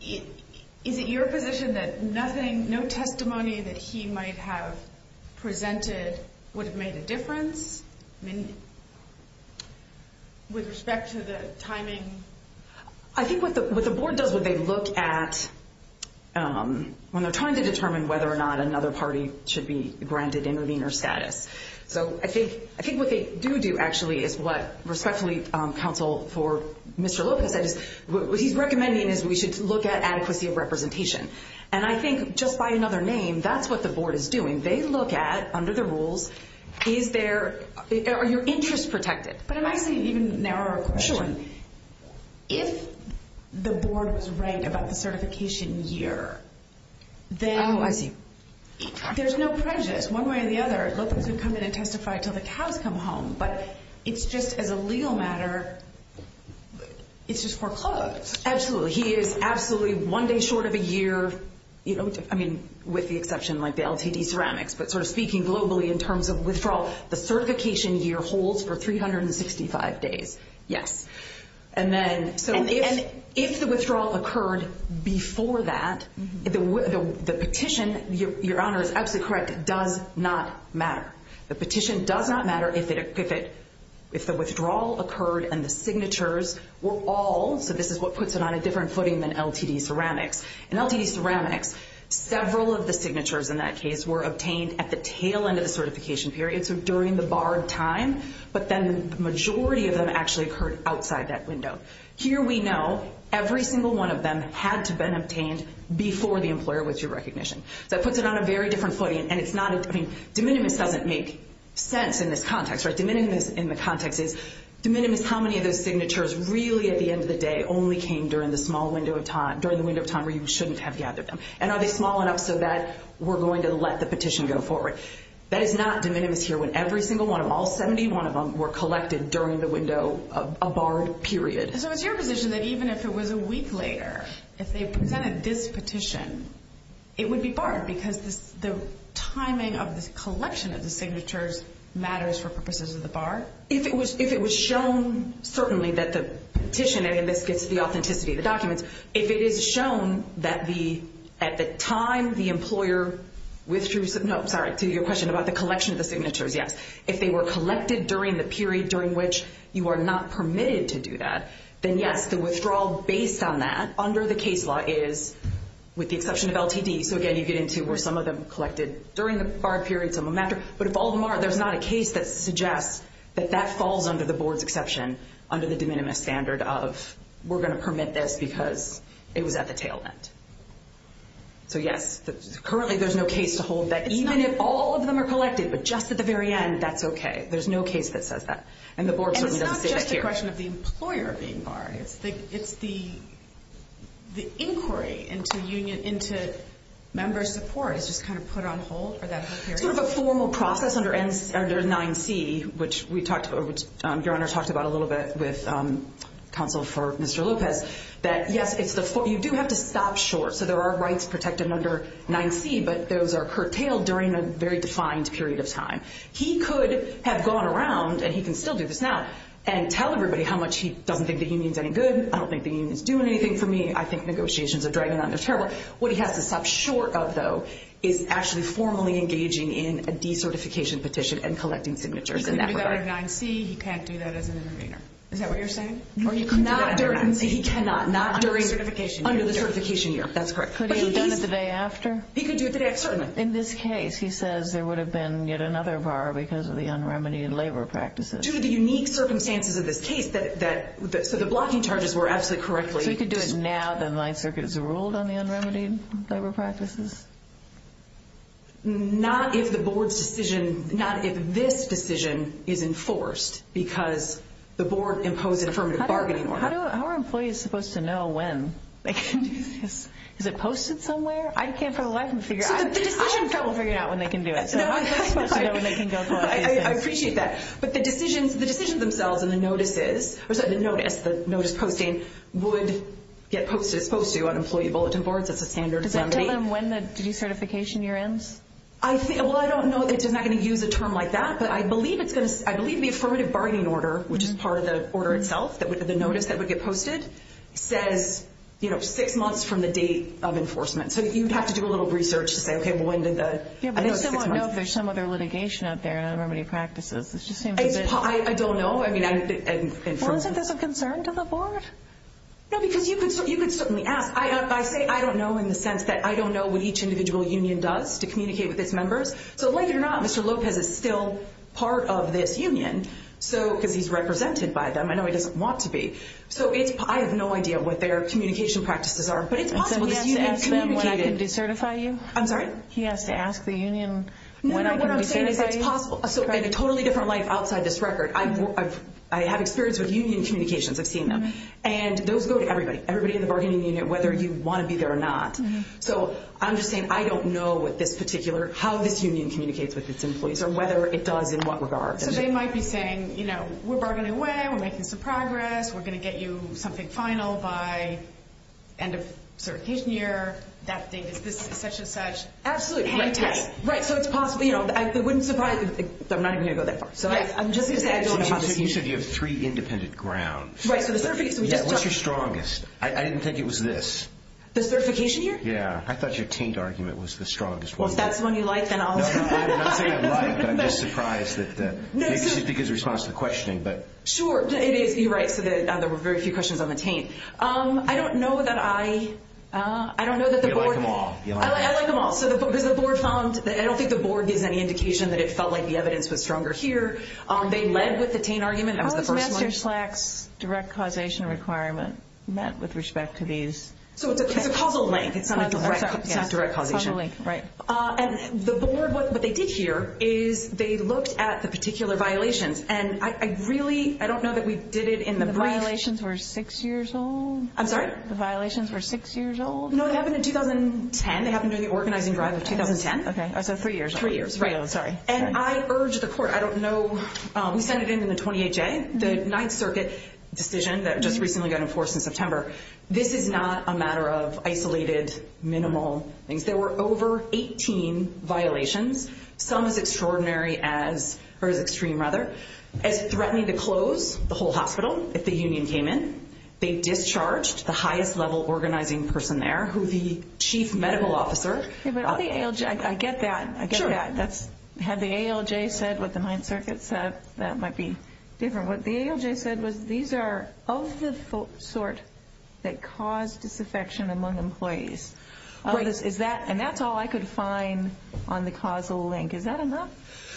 Is it your position that nothing, no testimony that he might have presented would have made a difference? With respect to the timing? I think what the board does when they look at, when they're trying to determine whether or not another party should be granted intervener status. So I think what they do do actually is what respectfully counsel for Mr. Lopez said is what he's recommending is we should look at adequacy of representation. And I think just by another name, that's what the board is doing. They look at, under the rules, is there, are your interests protected? But I see an even narrower question. Sure. If the board was right about the certification year, then there's no prejudice. One way or the other, Lopez would come in and testify until the cows come home. But it's just, as a legal matter, it's just foreclosed. Absolutely. He is absolutely one day short of a year, you know, with the exception like the LTD ceramics. But sort of speaking globally in terms of withdrawal, the certification year holds for 365 days. Yes. And if the withdrawal occurred before that, the petition, Your Honor is absolutely correct, does not matter. The petition does not matter if the withdrawal occurred and the signatures were all, so this is what puts it on a different footing than LTD ceramics. In LTD ceramics, several of the signatures in that case were obtained at the tail end of the certification period, so during the barred time. But then the majority of them actually occurred outside that window. Here we know every single one of them had to have been obtained before the employer withdrew recognition. So that puts it on a very different footing. And it's not, I mean, de minimis doesn't make sense in this context. De minimis in the context is, de minimis, how many of those signatures really at the end of the day only came during the small window of time, during the window of time where you shouldn't have gathered them? And are they small enough so that we're going to let the petition go forward? That is not de minimis here when every single one of them, all 71 of them were collected during the window of a barred period. So it's your position that even if it was a week later, if they presented this petition, it would be barred because the timing of the collection of the signatures matters for purposes of the bar? If it was shown, certainly, that the petition, and this gets to the authenticity of the documents, if it is shown that at the time the employer withdrew, no, sorry, to your question about the collection of the signatures, yes. If they were collected during the period during which you are not permitted to do that, then yes, the withdrawal based on that under the case law is, with the exception of LTD, so again you get into where some of them were collected during the barred period, some of them after, but if all of them are, there's not a case that suggests that that falls under the board's exception under the de minimis standard of we're going to permit this because it was at the tail end. So yes, currently there's no case to hold that even if all of them are collected, but just at the very end, that's okay. There's no case that says that, and the board certainly doesn't say that here. And it's not just a question of the employer being barred. It's the inquiry into member support is just kind of put on hold for that whole period? It's sort of a formal process under 9C, which your Honor talked about a little bit with counsel for Mr. Lopez, that yes, you do have to stop short. So there are rights protected under 9C, but those are curtailed during a very defined period of time. He could have gone around, and he can still do this now, and tell everybody how much he doesn't think the union's any good, I don't think the union's doing anything for me, I think negotiations are dragging on, they're terrible. What he has to stop short of, though, is actually formally engaging in a decertification petition and collecting signatures in that regard. He could have done it in 9C, he can't do that as an intervener. Is that what you're saying? Not during 9C, he cannot. Under the certification year. Under the certification year, that's correct. Could he have done it the day after? He could do it the day after, certainly. In this case, he says there would have been yet another bar because of the un-remedied labor practices. Due to the unique circumstances of this case, so the blocking charges were absolutely correct. So he could do it now that the Ninth Circuit has ruled on the un-remedied labor practices? Not if the board's decision, not if this decision is enforced, because the board imposed an affirmative bargaining order. How are employees supposed to know when they can do this? Is it posted somewhere? I can't for the life of me figure it out. I have trouble figuring out when they can do it. So how are they supposed to know when they can go for it? I appreciate that. But the decisions themselves and the notices, the notice posting would get posted. It's supposed to on employee bulletin boards. It's a standard remedy. Does it tell them when the certification year ends? I don't know. It's not going to use a term like that. But I believe the affirmative bargaining order, which is part of the order itself, the notice that would get posted, says six months from the date of enforcement. So you'd have to do a little research to say, okay, well, when did the notice say six months? I don't know if there's some other litigation out there, un-remedied practices. I don't know. Well, isn't this a concern to the board? No, because you could certainly ask. I say I don't know in the sense that I don't know what each individual union does to communicate with its members. So like it or not, Mr. Lopez is still part of this union because he's represented by them. I know he doesn't want to be. So I have no idea what their communication practices are. But it's possible this union communicated. And so he has to ask them when I can decertify you? I'm sorry? He has to ask the union when I can decertify you? No, what I'm saying is it's possible. So in a totally different life outside this record, I have experience with union communications. I've seen them. And those go to everybody, everybody in the bargaining unit, whether you want to be there or not. So I'm just saying I don't know what this particular, how this union communicates with its employees or whether it does in what regard. So they might be saying, you know, we're bargaining away. We're making some progress. We're going to get you something final by end of certification year. Is this such and such? Absolutely. Right. So it's possible. It wouldn't surprise me. I'm not even going to go that far. So I'm just going to say I don't believe this union. You said you have three independent grounds. Right. So the certification year. What's your strongest? I didn't think it was this. The certification year? Yeah. I thought your taint argument was the strongest one. Well, if that's the one you like, then I'll support that. No, I'm not saying I like it. I'm just surprised that it gives a response to the questioning. Sure, it is. You're right. So there were very few questions on the taint. I don't know that I, I don't know that the board. You like them all. I like them all. Because the board found, I don't think the board gives any indication that it felt like the evidence was stronger here. They led with the taint argument. That was the first one. How is Master Slack's direct causation requirement met with respect to these? So it's a causal link. It's not a direct causation. Right. And the board, what they did here is they looked at the particular violations. And I really, I don't know that we did it in the brief. The violations were six years old? I'm sorry? The violations were six years old? No, they happened in 2010. They happened during the organizing drive of 2010. Okay. So three years. Three years, right. Oh, sorry. And I urge the court, I don't know, we sent it in in the 28-J, the Ninth Circuit decision that just recently got enforced in September. This is not a matter of isolated, minimal things. There were over 18 violations, some as extraordinary as, or as extreme rather, as threatening to close the whole hospital if the union came in. They discharged the highest level organizing person there, who the chief medical officer. I get that. I get that. Had the ALJ said what the Ninth Circuit said, that might be different. What the ALJ said was these are of the sort that cause disaffection among employees. And that's all I could find on the causal link. Is that enough?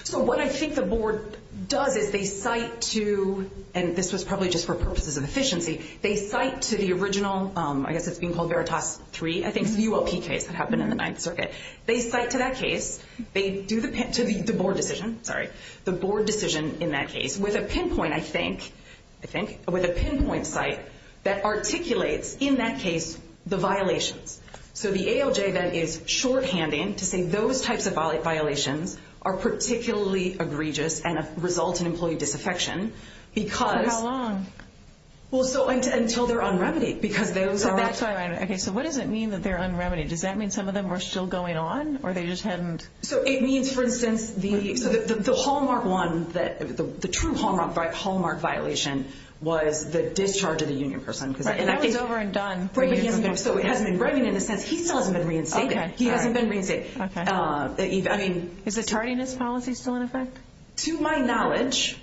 So what I think the board does is they cite to, and this was probably just for purposes of efficiency, they cite to the original, I guess it's being called Veritas 3, I think it's the UOP case that happened in the Ninth Circuit. They cite to that case, they do the board decision, sorry, the board decision in that case with a pinpoint, I think, with a pinpoint site that articulates in that case the violations. So the ALJ then is shorthanding to say those types of violations are particularly egregious and result in employee disaffection because. For how long? Until they're on remedy because those are. Okay, so what does it mean that they're on remedy? Does that mean some of them are still going on or they just hadn't? So it means, for instance, the Hallmark 1, the true Hallmark violation was the discharge of the union person. That was over and done. So it hasn't been reviewed in the sense he still hasn't been reinstated. He hasn't been reinstated. Is the tardiness policy still in effect? To my knowledge,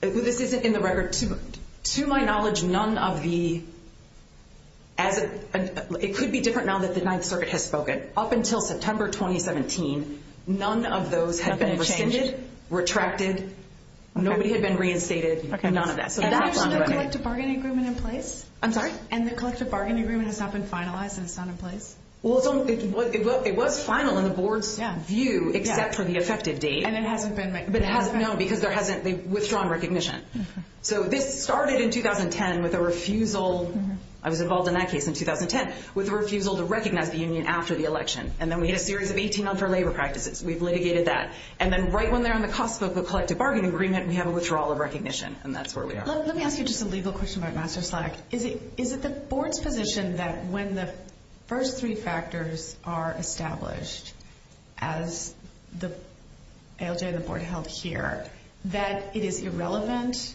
this isn't in the record, To my knowledge, none of the, it could be different now that the Ninth Circuit has spoken. Up until September 2017, none of those had been rescinded, retracted, nobody had been reinstated, none of that. So that's on the record. Is the collective bargaining agreement in place? I'm sorry? And the collective bargaining agreement has not been finalized and it's not in place? Well, it was final in the board's view except for the effective date. And it hasn't been made? No, because they've withdrawn recognition. So this started in 2010 with a refusal, I was involved in that case in 2010, with a refusal to recognize the union after the election. And then we had a series of 18-month-old labor practices. We've litigated that. And then right when they're on the cusp of a collective bargaining agreement, we have a withdrawal of recognition, and that's where we are. Let me ask you just a legal question about Master Slack. Is it the board's position that when the first three factors are established, as ALJ and the board held here, that it is irrelevant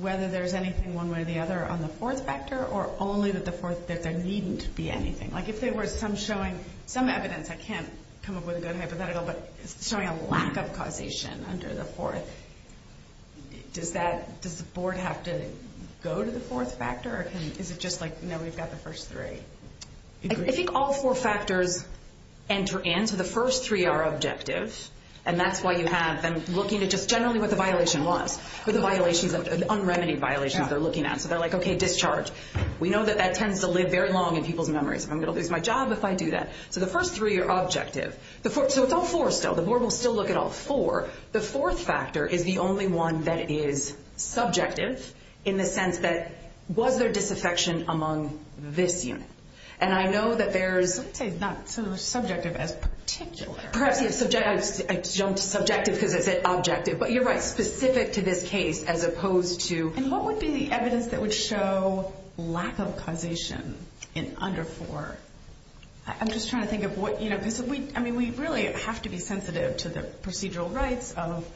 whether there's anything one way or the other on the fourth factor or only that there needn't be anything? Like if there were some evidence, I can't come up with a good hypothetical, but showing a lack of causation under the fourth, does the board have to go to the fourth factor? Or is it just like, no, we've got the first three? I think all four factors enter in. So the first three are objective, and that's why you have them looking at just generally what the violation was, the unremedied violations they're looking at. So they're like, okay, discharge. We know that that tends to live very long in people's memories. I'm going to lose my job if I do that. So the first three are objective. So it's all four still. The board will still look at all four. The fourth factor is the only one that is subjective in the sense that was there disaffection among this unit? And I know that there's... Let's say not so subjective as particular. Perhaps subjective because I said objective. But you're right, specific to this case as opposed to... And what would be the evidence that would show lack of causation in under four? I'm just trying to think of what... I mean, we really have to be sensitive to the procedural rights of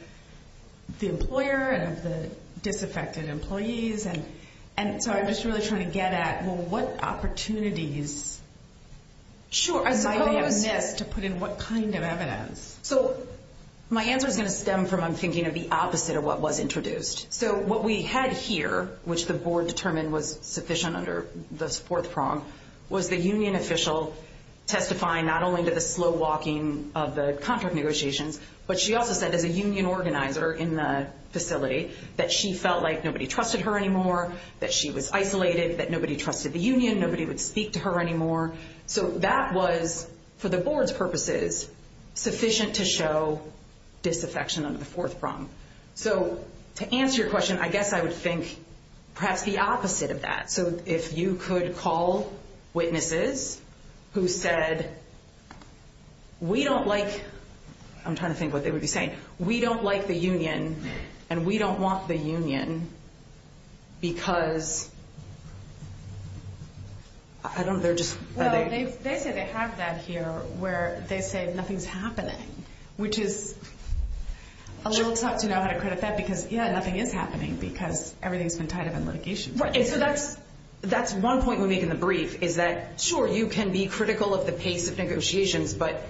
the employer and of the disaffected employees. And so I'm just really trying to get at, well, what opportunities... Sure, I suppose... Might they have missed to put in what kind of evidence? So my answer is going to stem from I'm thinking of the opposite of what was introduced. So what we had here, which the board determined was sufficient under this fourth prong, was the union official testifying not only to the slow walking of the contract negotiations, but she also said as a union organizer in the facility that she felt like nobody trusted her anymore, that she was isolated, that nobody trusted the union, nobody would speak to her anymore. So that was, for the board's purposes, sufficient to show disaffection under the fourth prong. So to answer your question, I guess I would think perhaps the opposite of that. So if you could call witnesses who said, we don't like... I'm trying to think what they would be saying. We don't like the union and we don't want the union because... I don't know, they're just... Well, they say they have that here where they say nothing's happening, which is a little tough to know how to credit that because, yeah, nothing is happening because everything's been tied up in litigation. Right, and so that's one point we make in the brief is that, sure, you can be critical of the pace of negotiations, but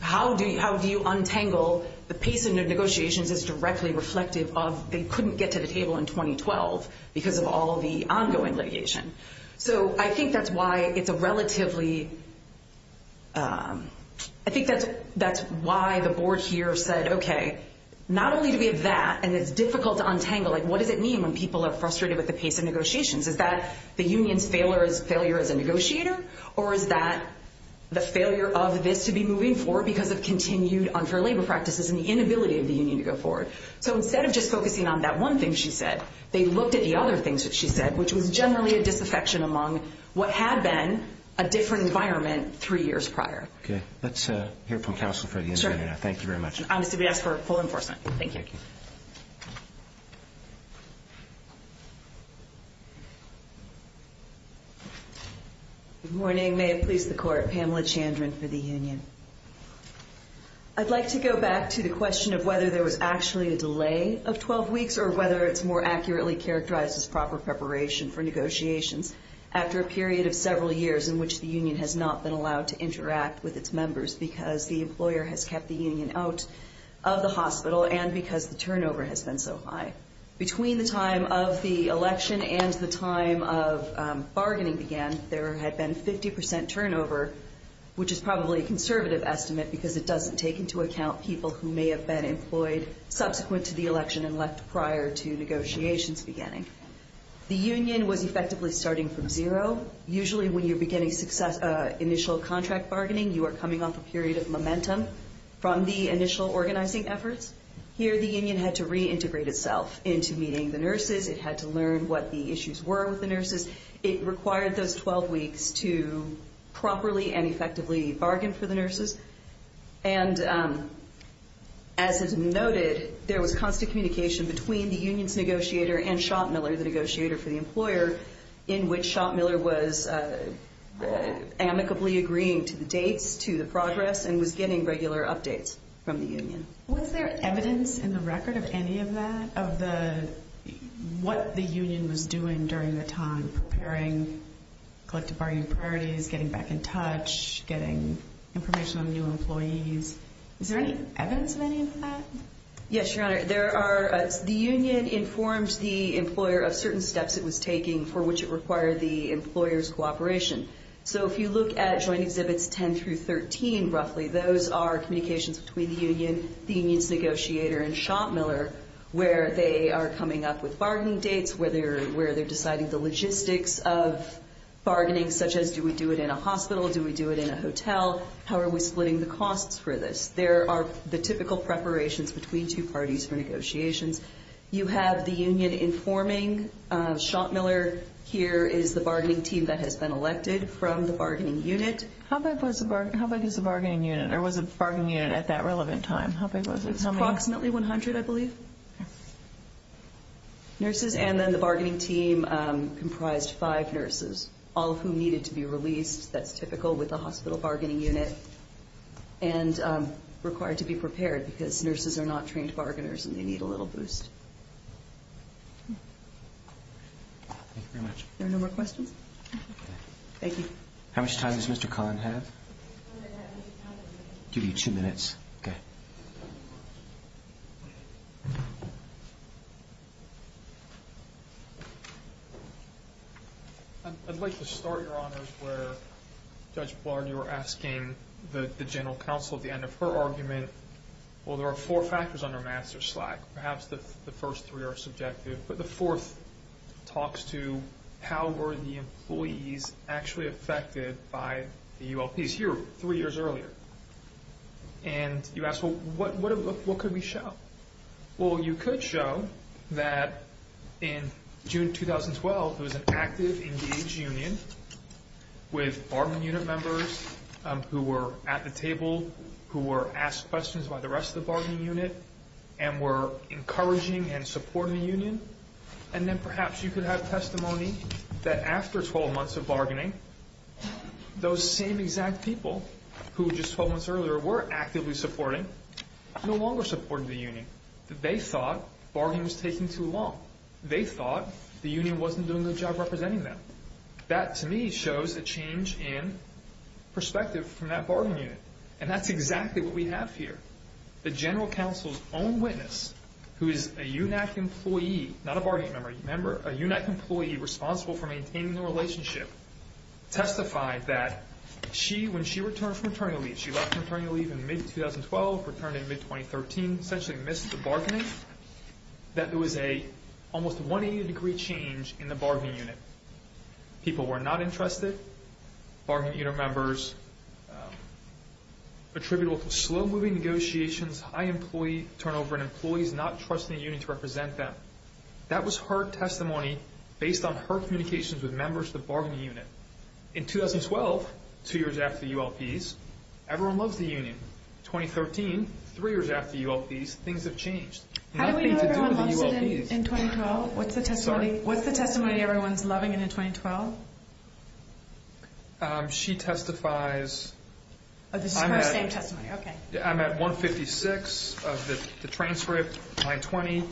how do you untangle the pace of negotiations is directly reflective of they couldn't get to the table in 2012 because of all of the ongoing litigation. So I think that's why it's a relatively... I think that's why the board here said, okay, not only do we have that and it's difficult to untangle, but what does it mean when people are frustrated with the pace of negotiations? Is that the union's failure as a negotiator or is that the failure of this to be moving forward because of continued unfair labor practices and the inability of the union to go forward? So instead of just focusing on that one thing she said, they looked at the other things that she said, which was generally a disaffection among what had been a different environment three years prior. Okay, let's hear from counsel for the interview now. Sure. Thank you very much. I'm going to ask for full enforcement. Thank you. Good morning. May it please the Court. Pamela Chandran for the union. I'd like to go back to the question of whether there was actually a delay of 12 weeks or whether it's more accurately characterized as proper preparation for negotiations after a period of several years in which the union has not been allowed to interact with its members because the employer has kept the union out of the hospital and because the turnover has been so high. Between the time of the election and the time of bargaining again, there had been 50% turnover, which is probably a conservative estimate because it doesn't take into account people who may have been employed subsequent to the election and left prior to negotiations beginning. The union was effectively starting from zero. Usually when you're beginning initial contract bargaining, you are coming off a period of momentum from the initial organizing efforts. Here the union had to reintegrate itself into meeting the nurses. It had to learn what the issues were with the nurses. It required those 12 weeks to properly and effectively bargain for the nurses. And as is noted, there was constant communication between the union's negotiator and Schottmiller, the negotiator for the employer, in which Schottmiller was amicably agreeing to the dates, to the progress, and was getting regular updates from the union. Was there evidence in the record of any of that, of what the union was doing during the time, preparing collective bargaining priorities, getting back in touch, getting information on new employees? Is there any evidence of any of that? Yes, Your Honor. The union informed the employer of certain steps it was taking for which it required the employer's cooperation. So if you look at Joint Exhibits 10 through 13, roughly, those are communications between the union, the union's negotiator, and Schottmiller, where they are coming up with bargaining dates, where they're deciding the logistics of bargaining, such as do we do it in a hospital, do we do it in a hotel, how are we splitting the costs for this? There are the typical preparations between two parties for negotiations. You have the union informing Schottmiller, here is the bargaining team that has been elected from the bargaining unit. How big was the bargaining unit, or was the bargaining unit at that relevant time? Approximately 100, I believe, nurses, and then the bargaining team comprised five nurses, all of whom needed to be released. That's typical with a hospital bargaining unit. And required to be prepared because nurses are not trained bargainers and they need a little boost. Thank you very much. Are there no more questions? Thank you. How much time does Mr. Kahn have? Give you two minutes. Okay. Thank you very much. I'd like to start, Your Honors, where Judge Blard, you were asking the general counsel at the end of her argument, well, there are four factors under master slack. Perhaps the first three are subjective. But the fourth talks to how were the employees actually affected by the ULPs here three years earlier? And you asked, well, what could we show? Well, you could show that in June 2012, there was an active, engaged union with bargaining unit members who were at the table, who were asked questions by the rest of the bargaining unit, and were encouraging and supporting the union. And then perhaps you could have testimony that after 12 months of bargaining, those same exact people who just 12 months earlier were actively supporting, no longer supported the union. They thought bargaining was taking too long. They thought the union wasn't doing a good job representing them. That, to me, shows a change in perspective from that bargaining unit. And that's exactly what we have here. The general counsel's own witness, who is a UNAC employee, not a bargaining member, a UNAC employee responsible for maintaining the relationship, testified that when she returned from maternity leave, she left maternity leave in mid-2012, returned in mid-2013, essentially missed the bargaining, that there was an almost 180-degree change in the bargaining unit. People were not interested. Bargaining unit members attributed slow-moving negotiations, high employee turnover, and employees not trusting the union to represent them. That was her testimony based on her communications with members of the bargaining unit. In 2012, two years after ULPs, everyone loves the union. In 2013, three years after ULPs, things have changed. How do we know everyone loves it in 2012? What's the testimony everyone's loving in 2012? She testifies. This is her same testimony, okay. I'm at 156 of the transcript, line 20.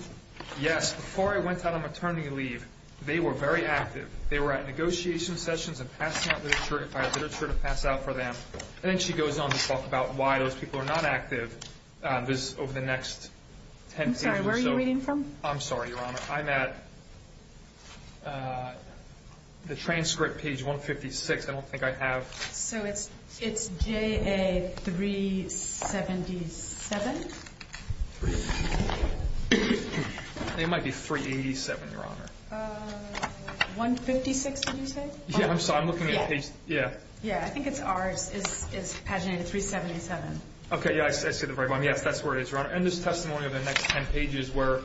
Yes, before I went on maternity leave, they were very active. They were at negotiation sessions and passed out literature to pass out for them. And then she goes on to talk about why those people are not active over the next 10 pages. I'm sorry, where are you reading from? I'm sorry, Your Honor. I'm at the transcript, page 156. I don't think I have. So it's JA-377? It might be 387, Your Honor. 156, did you say? Yeah, I'm looking at page, yeah. Yeah, I think it's ours. It's paginated 377. Okay, yeah, I see the red one. Yes, that's where it is, Your Honor. And this testimony of the next 10 pages where,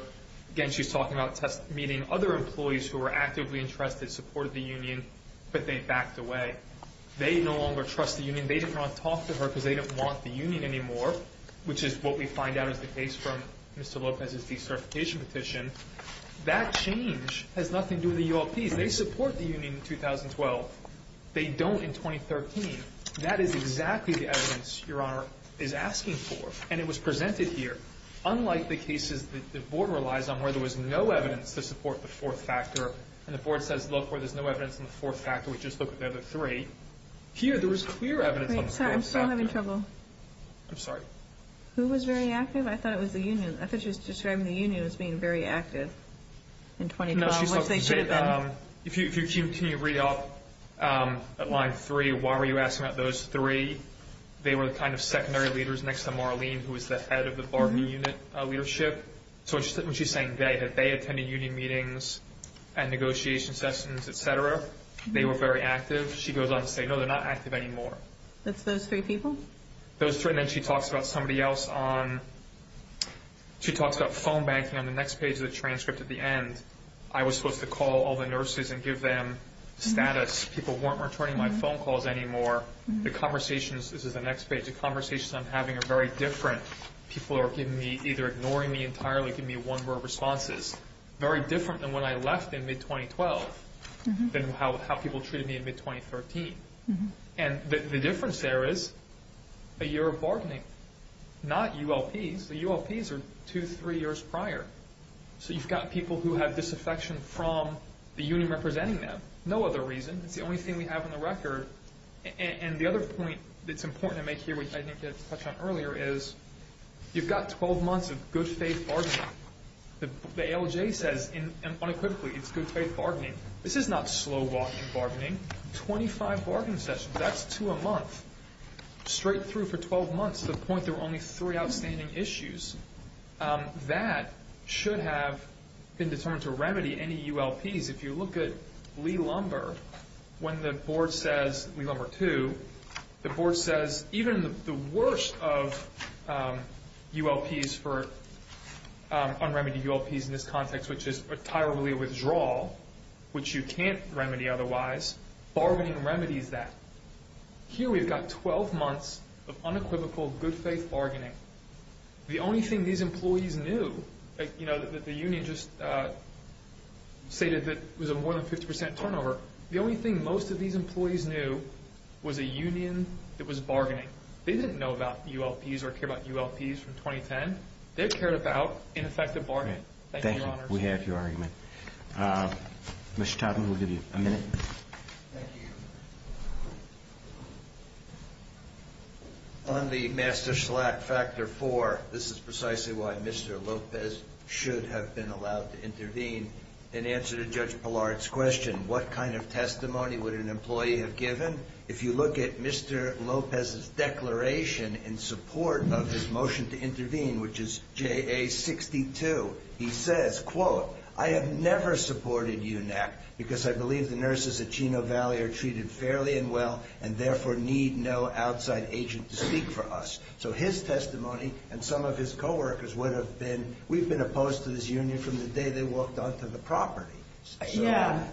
again, she's talking about meeting other employees who were actively interested, supported the union, but they backed away. They no longer trust the union. They did not talk to her because they didn't want the union anymore, which is what we find out is the case from Mr. Lopez's decertification petition. That change has nothing to do with the UOPs. They support the union in 2012. They don't in 2013. That is exactly the evidence Your Honor is asking for, and it was presented here. Unlike the cases that the Board relies on where there was no evidence to support the fourth factor, and the Board says, look, where there's no evidence in the fourth factor, we just look at the other three. Here, there was clear evidence on the fourth factor. I'm sorry, I'm still having trouble. I'm sorry. Who was very active? I thought it was the union. I thought she was describing the union as being very active in 2012, which they should have been. No, she's talking about, if you continue to read up at line three, why were you asking about those three? They were the kind of secondary leaders next to Marlene, who was the head of the bargaining unit leadership. So when she's saying they, had they attended union meetings and negotiation sessions, et cetera, they were very active. She goes on to say, no, they're not active anymore. That's those three people? Those three, and then she talks about somebody else on, she talks about phone banking on the next page of the transcript at the end. I was supposed to call all the nurses and give them status. People weren't returning my phone calls anymore. The conversations, this is the next page, the conversations I'm having are very different. People are giving me, either ignoring me entirely, giving me one-word responses. This is very different than when I left in mid-2012, than how people treated me in mid-2013. And the difference there is a year of bargaining, not ULPs. The ULPs are two, three years prior. So you've got people who have disaffection from the union representing them. No other reason. It's the only thing we have on the record. And the other point that's important to make here, which I think you touched on earlier, is you've got 12 months of good faith bargaining. The ALJ says unequivocally it's good faith bargaining. This is not slow-walking bargaining. 25 bargaining sessions, that's two a month, straight through for 12 months to the point there were only three outstanding issues. That should have been determined to remedy any ULPs. If you look at Lee Lumber, when the board says, Lee Lumber 2, the board says even the worst of ULPs for un-remedied ULPs in this context, which is a tire-related withdrawal, which you can't remedy otherwise, bargaining remedies that. Here we've got 12 months of unequivocal good faith bargaining. The only thing these employees knew, you know, that the union just stated that it was a more than 50% turnover, the only thing most of these employees knew was a union that was bargaining. They didn't know about ULPs or care about ULPs from 2010. They cared about ineffective bargaining. Thank you, Your Honors. Thank you. We have your argument. Mr. Totten, we'll give you a minute. Thank you. On the master slack factor four, this is precisely why Mr. Lopez should have been allowed to intervene in answer to Judge Pillard's question. What kind of testimony would an employee have given? If you look at Mr. Lopez's declaration in support of his motion to intervene, which is JA62, he says, quote, I have never supported you, NAC, because I believe the nurses at Chino Valley are treated fairly and well and therefore need no outside agent to speak for us. So his testimony and some of his coworkers would have been, we've been opposed to this union from the day they walked onto the property. Yeah.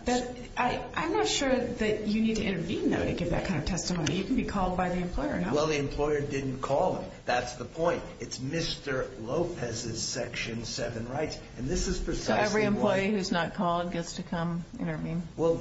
I'm not sure that you need to intervene, though, to give that kind of testimony. You can be called by the employer. Well, the employer didn't call him. That's the point. It's Mr. Lopez's Section 7 rights, and this is precisely why. So every employee who's not called gets to come intervene? Well,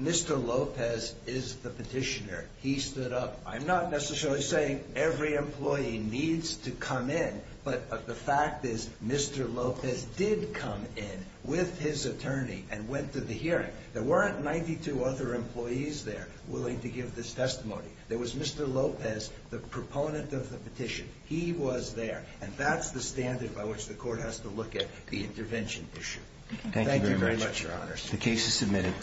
Mr. Lopez is the petitioner. He stood up. I'm not necessarily saying every employee needs to come in, but the fact is Mr. Lopez did come in with his attorney and went to the hearing. There weren't 92 other employees there willing to give this testimony. There was Mr. Lopez, the proponent of the petition. He was there. And that's the standard by which the court has to look at the intervention issue. Thank you very much, Your Honors. The case is submitted.